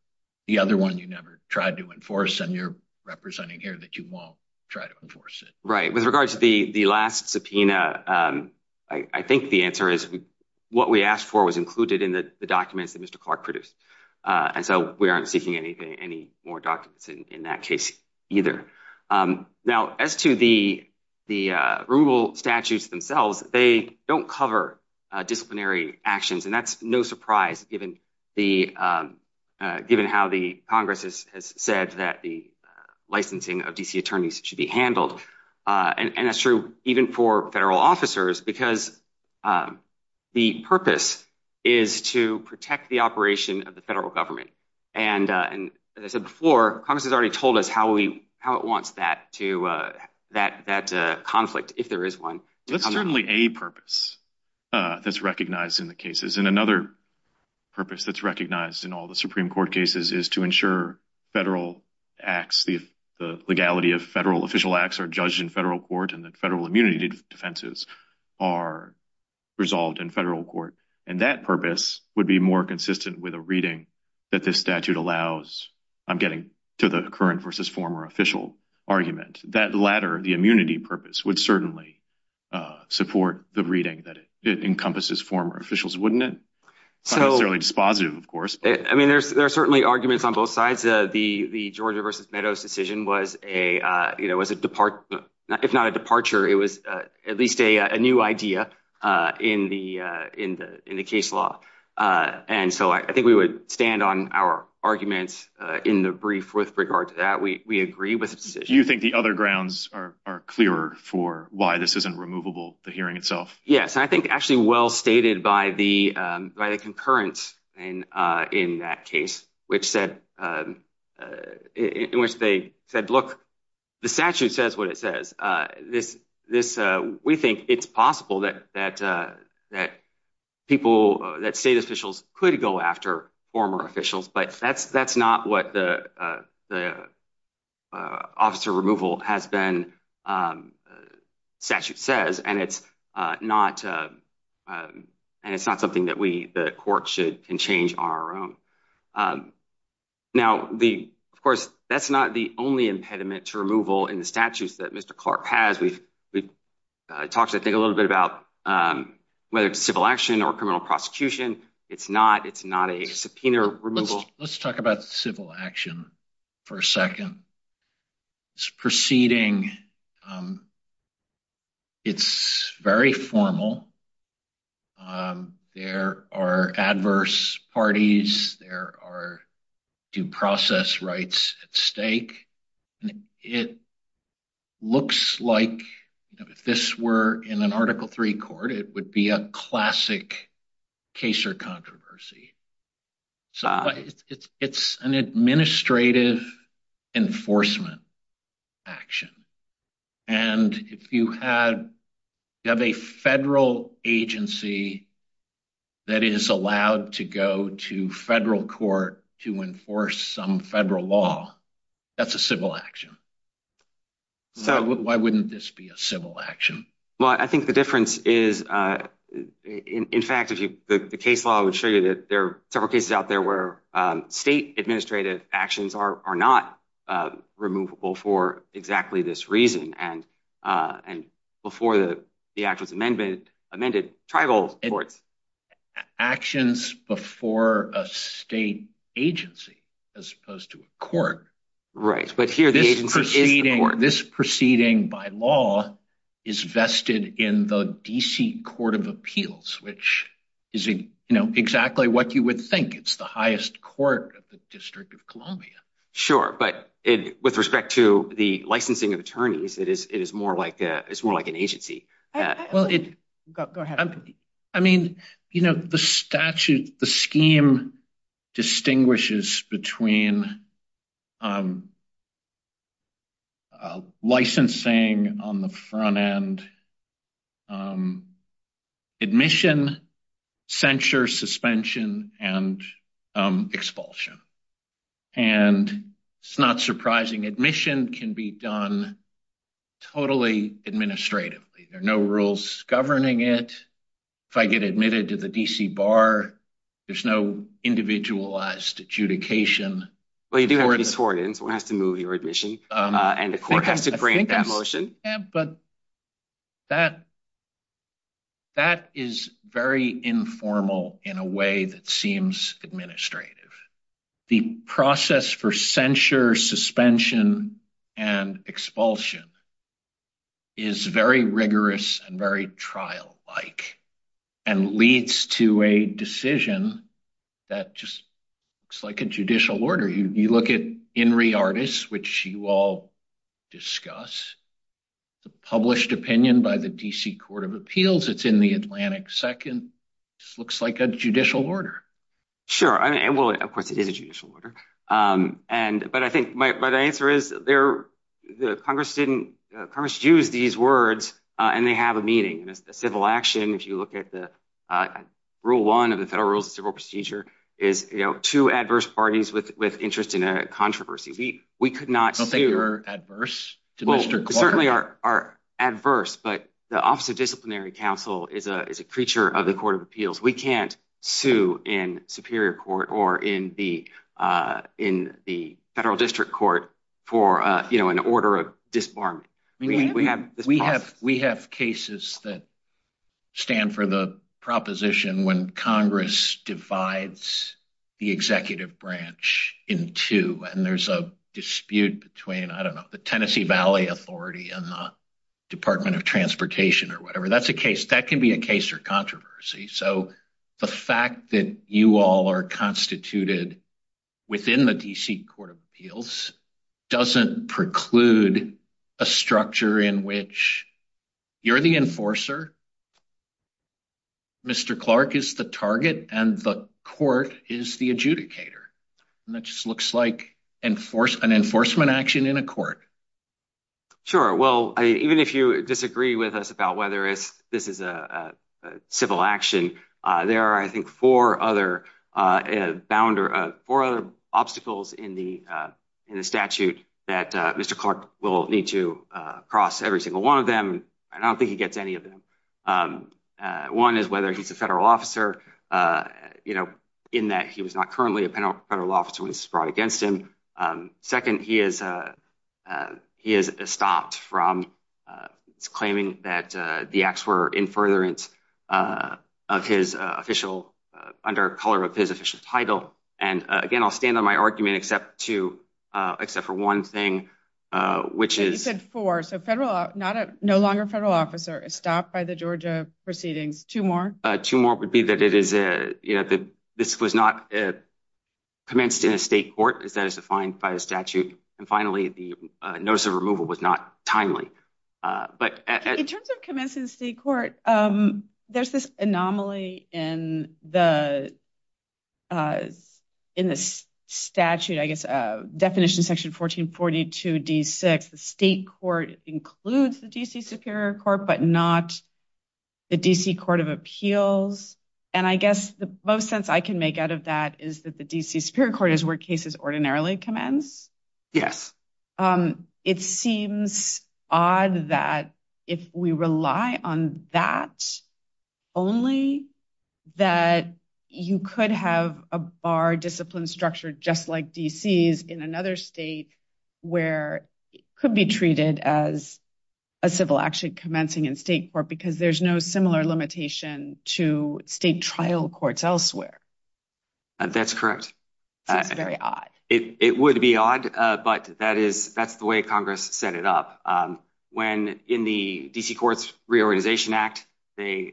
The other one you never tried to enforce and you're representing here that you won't try to enforce it. Right. With regards to the last subpoena, I think the answer is what we asked for was included in the documents that Mr. Clark produced. And so we aren't seeking any more documents in that case either. Now, as to the rule statutes themselves, they don't cover disciplinary actions. And that's no surprise given how the Congress has said that the licensing of DC attorneys should be handled. And that's true even for federal officers, because the purpose is to protect the operation of the federal government. And as I said before, Congress has already told us how it wants that conflict, if there is one. That's certainly a purpose that's recognized in the cases. And another purpose that's recognized in all the Supreme Court cases is to ensure federal official acts are judged in federal court and that federal immunity defenses are resolved in federal court. And that purpose would be more consistent with a reading that this statute allows. I'm getting to the current versus former official argument. That latter, the immunity purpose, would certainly support the reading that it encompasses former officials, wouldn't it? I'm not necessarily dispositive, of course. I mean, there are certainly arguments on both sides. The Georgia versus Meadows decision was a, you know, it's not a departure. It was at least a new idea in the case law. And so I think we would stand on our arguments in the brief with regard to that. We agree with the decision. Do you think the other grounds are clearer for why this isn't removable, the hearing itself? Yes, I think actually well stated by the concurrence in that case, in which they said, look, the statute says what it says. We think it's possible that state officials could go after former officials, but that's not what the officer removal has been, statute says. And it's not something that the court can change on our own. Now, of course, that's not the only impediment to removal in the statutes that Mr. Clark has. We've talked, I think, a little bit about whether it's civil action or criminal prosecution. It's not. It's not a subpoena removal. Let's talk about civil action for a second. This proceeding, it's very formal. There are adverse parties. There are due process rights at stake. It looks like if this were in an Article III court, it would be a classic case or controversy. So it's an administrative enforcement action. And if you have a federal agency that is allowed to go to federal court to enforce some federal law, that's a civil action. So why wouldn't this be a civil action? Well, I think the difference is, in fact, the case law would show you that there are several cases out there where state administrative actions are not removable for exactly this reason. And before the act was amended, tribal court. Actions before a state agency as opposed to a court. Right. This proceeding by law is vested in the D.C. Court of Appeals, which is exactly what you would think. It's the highest court of the District of Columbia. Sure. But with respect to the licensing of attorneys, it is more like an agency. Well, I mean, you know, the statute, the scheme distinguishes between licensing on the front end, admission, censure, suspension and expulsion. And it's not surprising admission can be done totally administratively. No rules governing it. If I get admitted to the D.C. Bar, there's no individualized adjudication. Well, you do have to move your admission and the court has to grant that motion. But that is very informal in a way that seems administrative. The process for censure, suspension and expulsion is very rigorous and very trial-like and leads to a decision that just looks like a judicial order. You look at INRI Artis, which you all discuss. It's a published opinion by the D.C. Court of Appeals. It's in the Atlantic Second. It looks like a judicial order. Sure. And, well, of course, it is a judicial order. But I think my answer is Congress used these words and they have a meaning. Civil action, if you look at Rule 1 of the Federal Rules of Civil Procedure, is two adverse parties with interest in a controversy. We could not say- I don't think we're adverse to Mr. Clark. Certainly are adverse. But the Office of Disciplinary Counsel is a creature of the Court of Appeals. We can't sue in Superior Court or in the Federal District Court for an order of disbarment. We have cases that stand for the proposition when Congress divides the executive branch in two and there's a dispute between, I don't know, the Tennessee Valley Authority and the Department of Transportation or whatever. That's a case- that can be a case for controversy. So the fact that you all are constituted within the D.C. Court of Appeals doesn't preclude a structure in which you're the enforcer, Mr. Clark is the target, and the court is the adjudicator. And that just looks like an enforcement action in a court. Sure. Well, even if you disagree with us about whether this is a civil action, there are, I think, four other obstacles in the statute that Mr. Clark will need to cross, every single one of them. I don't think he gets any of them. One is whether he's a federal officer, in that he was not currently a federal officer when this was brought against him. Second, he is stopped from claiming that the acts were in furtherance of his official- under the color of his official title. And again, I'll stand on my argument except for one thing, which is- You said four. So no longer a federal officer, stopped by the Georgia proceedings. Two more? Two more would be that this was not commenced in a state court, as defined by the statute. And finally, the notice of removal was not timely. But- In terms of commencing the state court, there's this anomaly in the statute, I guess, definition section 1442D6. The state court includes the D.C. Superior Court, but not the D.C. Court of Appeals. And I guess the most sense I can make out of that is that the D.C. Superior Court is where cases ordinarily commence. Yes. It seems odd that if we rely on that only, that you could have a bar discipline structure just like D.C.'s in another state where it could be treated as a civil action commencing in state court because there's no similar limitation to state trial courts elsewhere. That's correct. Very odd. It would be odd, but that's the way Congress set it up. When in the D.C. Courts Reorganization Act, they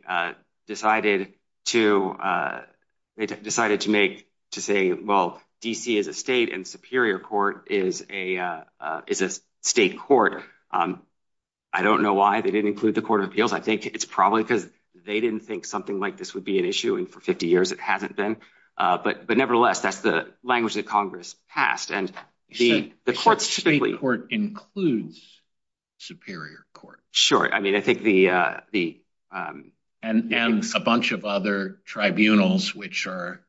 decided to make, to say, well, D.C. is a state and Superior Court is a state court. I don't know why they didn't include the Court of Appeals. I think it's probably because they didn't think something like this would be an issue, and for 50 years it hasn't been. But nevertheless, that's the language that Congress passed. And the state court includes Superior Court. Sure. And a bunch of other tribunals which are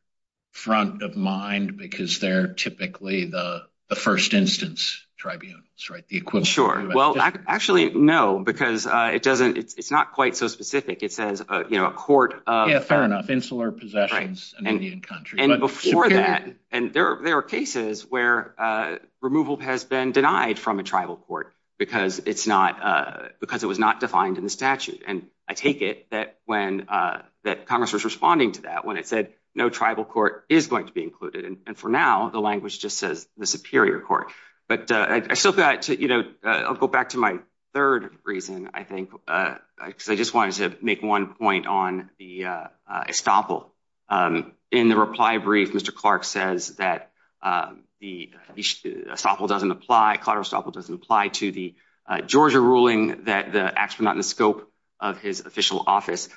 front of mind because they're typically the first instance tribunals, right? Sure. Well, actually, no, because it's not quite so specific. It says a court of- Yeah, fair enough. Possessions in Indian Country. And before that, and there are cases where removal has been denied from a tribal court because it was not defined in the statute. And I take it that Congress was responding to that when it said no tribal court is going to be included. And for now, the language just says the Superior Court. But I'll go back to my third reason, I think, because I just wanted to make one point on the estoppel. In the reply brief, Mr. Clark says that the estoppel doesn't apply, collateral estoppel doesn't apply to the Georgia ruling that acts from out in the scope of his official office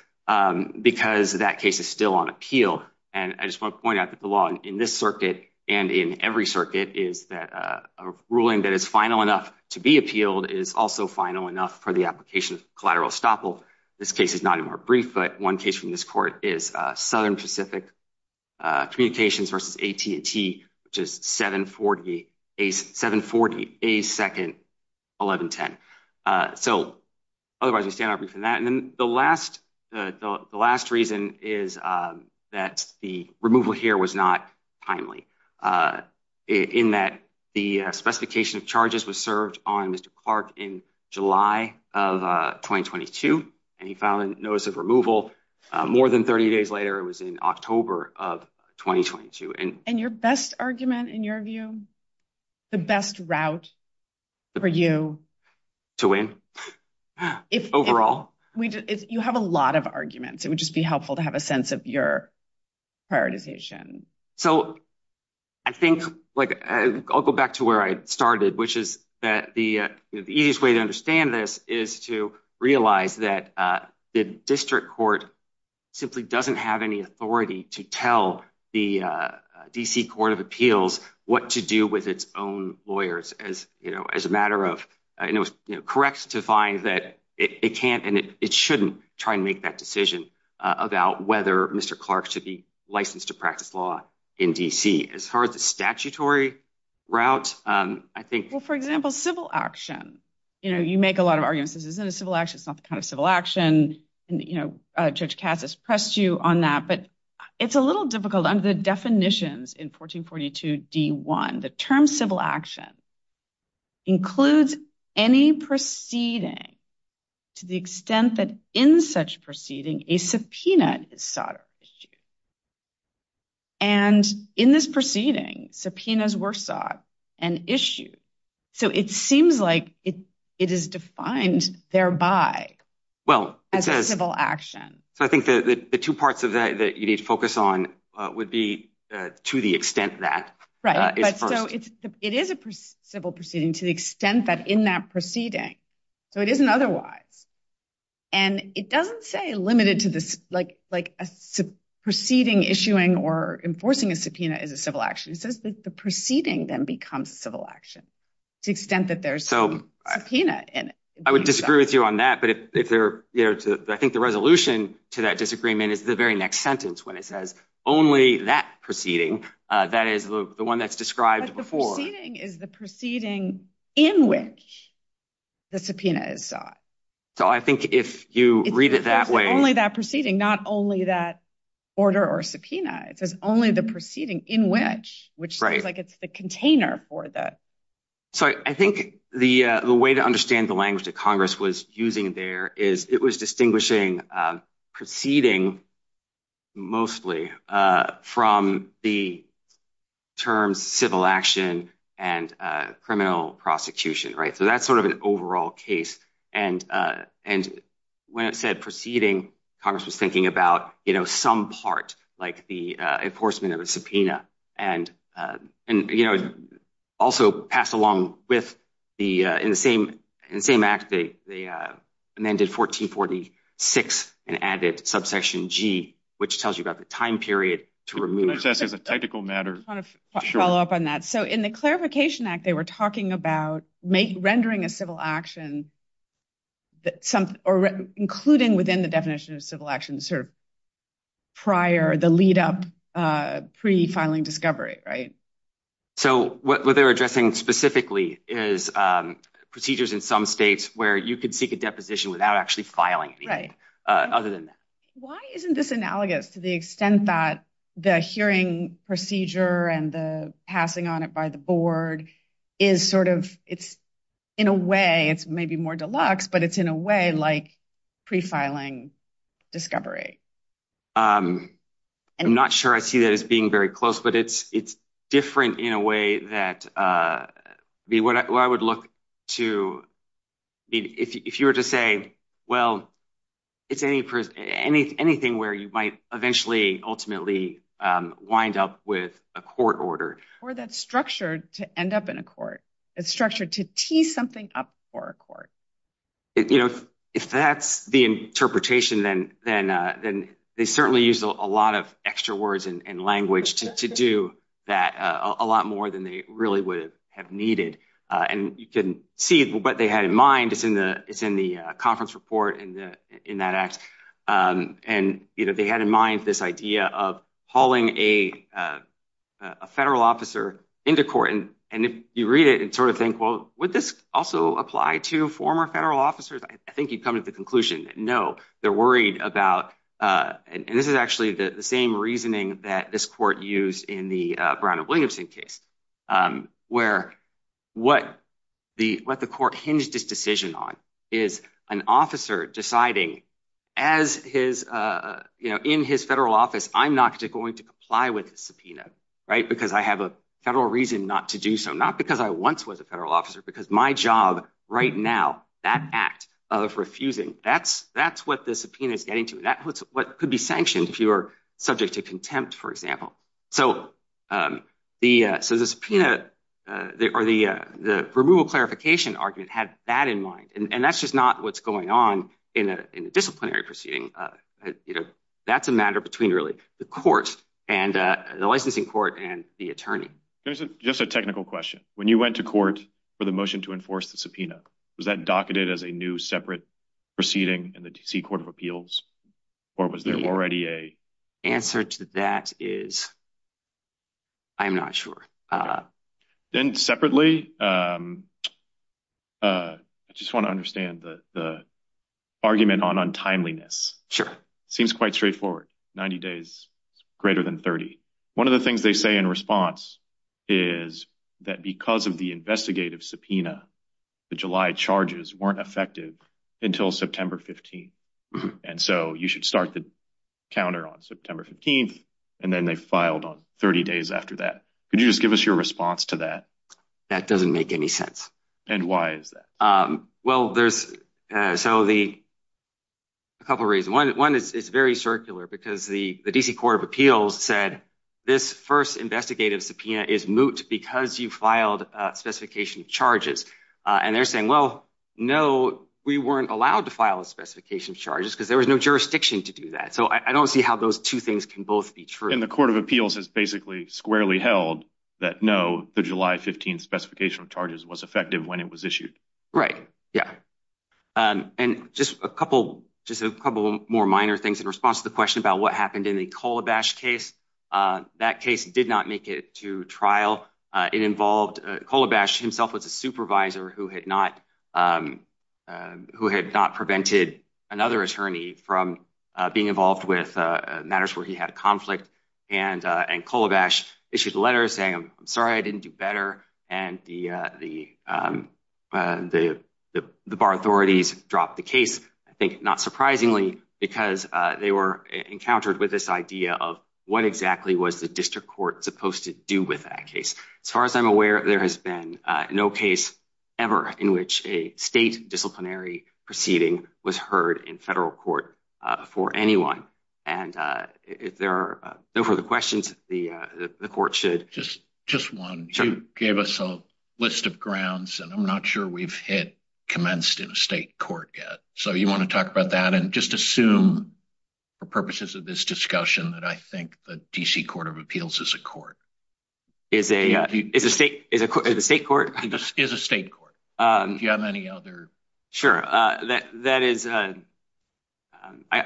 because that case is still on appeal. And I just want to point out that the law in this circuit and in every circuit is that a ruling that is final enough to be appealed is also final enough for the application of collateral estoppel. This case is not any more brief, but one case from this court is Southern Pacific Communications versus AT&T, which is 740-82nd-1110. So otherwise, we stand out from that. And then the last reason is that the removal here was not timely, in that the specification of charges was served on Mr. Clark in July of 2022, and he found notice of removal more than 30 days later. It was in October of 2022. And your best argument, in your view, the best route for you? To win, overall. You have a lot of arguments. It would just be helpful to have a sense of your prioritization. So I think, like, I'll go back to where I started, which is that the easiest way to understand this is to realize that the district court simply doesn't have any authority to tell the D.C. Court of Appeals what to do with its own lawyers as a matter of, and it was correct to find that it can't and it shouldn't try and make that decision about whether Mr. Clark should be licensed to practice law in D.C. As far as the statutory route, I think— Well, for example, civil action. You know, you make a lot of arguments. This isn't a civil action. It's not the kind of civil action, and, you know, Judge Cass has pressed you on that. But it's a little difficult. Under the definitions in 1442-D-1, the term civil action includes any proceeding to the extent that it is a civil proceeding. And in this proceeding, subpoenas were sought and issued. So it seems like it is defined thereby as a civil action. Well, I think the two parts of that that you need to focus on would be to the extent that it's first. Right. But so it is a civil proceeding to the extent that in that proceeding. So it isn't otherwise. And it doesn't say limited to like a proceeding issuing or enforcing a subpoena is a civil action. It says that the proceeding then becomes a civil action to the extent that there's a subpoena in it. I would disagree with you on that, but I think the resolution to that disagreement is the very next sentence when it says only that proceeding. That is the one that's described before. Is the proceeding in which the subpoena is sought. So I think if you read it that way. It's only that proceeding, not only that order or subpoena. It's only the proceeding in which, which seems like it's the container for the. So I think the way to understand the language that Congress was using there is it was and criminal prosecution. Right. So that's sort of an overall case. And, and when it said proceeding, Congress was thinking about, you know, some part like the enforcement of a subpoena and, and, you know, also pass along with the, in the same in the same act, they, they amended 1446 and added subsection G, which tells you about the time period to remove. I want to follow up on that. So in the clarification act, they were talking about make rendering a civil action. That some, or including within the definition of civil action, sort of prior the lead up pre filing discovery. Right. So what they're addressing specifically is procedures in some states where you could seek a deposition without actually filing. Right. Other than that. Why isn't this analogous to the extent that the hearing procedure and the passing on it by the board is sort of, it's in a way it's maybe more deluxe, but it's in a way like pre filing discovery. I'm not sure I see that as being very close, but it's, it's different in a way that the, what I would look to if you were to say, well, it's any, any, anything where you might eventually, ultimately wind up with a court order. Or that's structured to end up in a court. It's structured to tee something up for a court. You know, if that's the interpretation, then, then, then they certainly use a lot of extra words and language to do that a lot more than they really would have needed. And you can see what they had in mind. It's in the, it's in the conference report in the, in that act. And either they had in mind this idea of hauling a federal officer into court. And, and if you read it and sort of think, well, would this also apply to former federal officers? I think you'd come to the conclusion. No, they're worried about, and this is actually the same reasoning that this court used in the Brown and Williamson case, where what the, what the court hinged this decision on is an officer deciding as his, you know, in his federal office, I'm not going to comply with the subpoena, right? Because I have a federal reason not to do so. Not because I once was a federal officer, because my job right now, that act of refusing that's, that's what the subpoena is getting to. That was what could be sanctioned if you were subject to contempt, for example. So the, so the subpoena or the, the removal clarification argument had that in mind, and that's just not what's going on in a disciplinary proceeding. That's a matter between really the courts and the licensing court and the attorney. There's just a technical question. When you went to court for the motion to enforce the subpoena, was that docketed as a new separate proceeding in the D.C. Court of Appeals, or was there already a... Answer to that is, I'm not sure. Then separately, I just want to understand the argument on untimeliness. Sure. Seems quite straightforward. 90 days greater than 30. One of the things they say in response is that because of the investigative subpoena, the July charges weren't effective until September 15th, and so you should start the counter on September 15th, and then they filed on 30 days after that. Could you just give us your response to that? That doesn't make any sense. And why is that? Well, there's, so the, a couple of reasons. One is, it's very circular because the, the D.C. Court of Appeals said this first investigative subpoena is moot because you filed a specification of charges, and they're saying, well, no, we weren't allowed to file a specification of charges because there was no jurisdiction to do that. So I don't see how those two things can both be true. And the Court of Appeals has basically squarely held that no, the July 15th specification of charges was effective when it was issued. Right, yeah. And just a couple, just a couple more minor things in response to the question about what did not make it to trial. It involved, Kolobash himself was a supervisor who had not, who had not prevented another attorney from being involved with matters where he had conflict. And, and Kolobash issued a letter saying, I'm sorry, I didn't do better. And the, the, the, the bar authorities dropped the case, I think, not surprisingly, because they were encountered with this idea of what exactly was the district court supposed to do with that case. As far as I'm aware, there has been no case ever in which a state disciplinary proceeding was heard in federal court for anyone. And if there are no further questions, the, the court should. Just, just one, you gave us a list of grounds, and I'm not sure we've hit commenced in state court yet. So you want to talk about that and just assume for purposes of this discussion that I think the D.C. Court of Appeals is a court. Is a, is a state, is a state court? Is a state court. Do you have any other? Sure, that, that is, I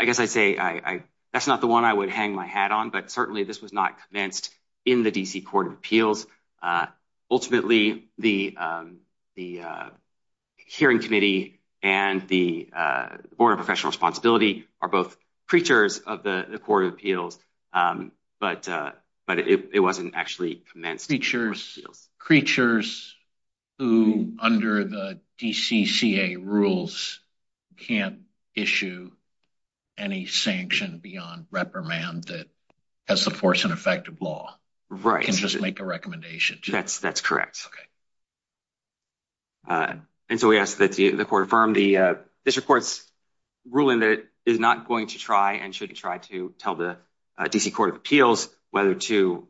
guess I'd say I, I, that's not the one I would hang my hat on, but certainly this was not commenced in the D.C. Court of Appeals. Ultimately, the, the hearing committee and the Board of Professional Responsibility are both preachers of the Court of Appeals. But, but it wasn't actually commenced. Preachers, preachers who under the DCCA rules can't issue any sanction beyond reprimand that has the force and effect of law. Right. And just make a recommendation. That's, that's correct. And so we ask that the court affirm the, this report's ruling that it is not going to try and should try to tell the D.C. Court of Appeals whether to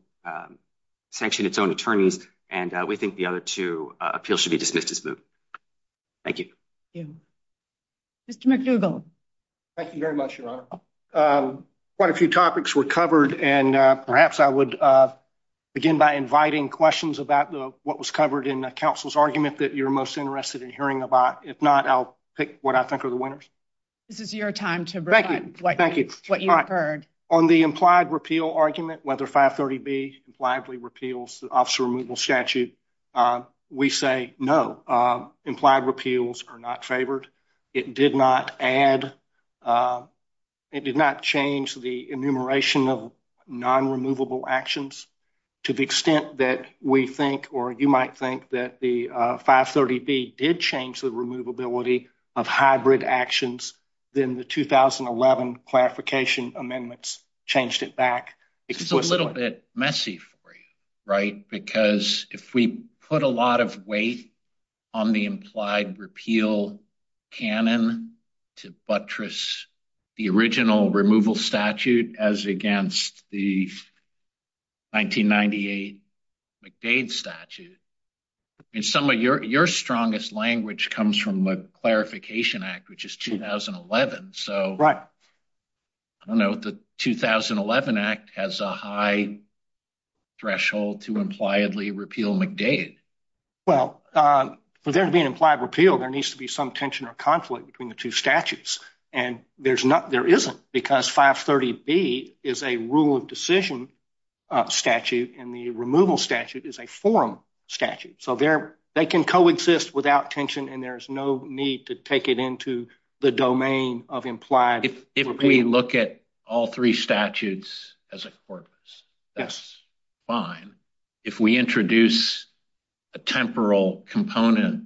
sanction its own attorneys. And we think the other two appeals should be dismissed as moved. Thank you. Thank you. Mr. McDougall. Thank you very much, Your Honor. Quite a few topics were covered, and perhaps I would begin by inviting questions about what was covered in the counsel's argument that you're most interested in hearing about. If not, I'll pick what I think are the winners. This is your time to reflect what you've heard. On the implied repeal argument, whether 530B reliably repeals the officer removal statute, we say no. Implied repeals are not favored. It did not add, it did not change the enumeration of non-removable actions to the extent that we think, or you might think, that the 530B did change the removability of hybrid actions. Then the 2011 clarification amendments changed it back. It's a little bit messy for you, right? If we put a lot of weight on the implied repeal canon to buttress the original removal statute as against the 1998 McDade statute, some of your strongest language comes from the Clarification Act, which is 2011. Right. I don't know. The 2011 Act has a high threshold to impliedly repeal McDade. Well, for there to be an implied repeal, there needs to be some tension or conflict between the two statutes, and there isn't because 530B is a rule of decision statute, and the removal statute is a forum statute. So they can coexist without tension, and there's no need to take it into the domain of implied repeal. If we look at all three statutes as a corpus, that's fine. If we introduce a temporal component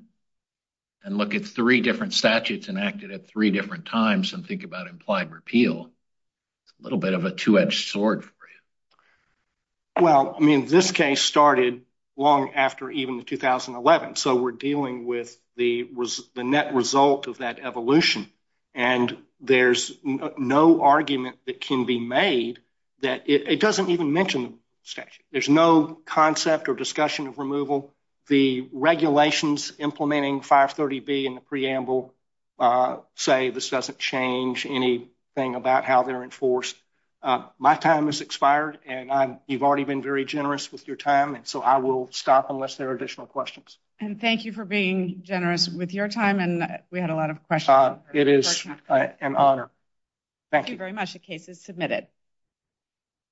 and look at three different statutes enacted at three different times and think about implied repeal, it's a little bit of a two-edged sword for you. Well, I mean, this case started long after even 2011, so we're dealing with the net result of that evolution, and there's no argument that can be made that it doesn't even mention the statute. There's no concept or discussion of removal. The regulations implementing 530B in the preamble say this doesn't change anything about how they're enforced. My time has expired, and you've already been very generous with your time, and so I will stop unless there are additional questions. And thank you for being generous with your time, and we had a lot of questions. It is an honor. Thank you very much. The case is submitted.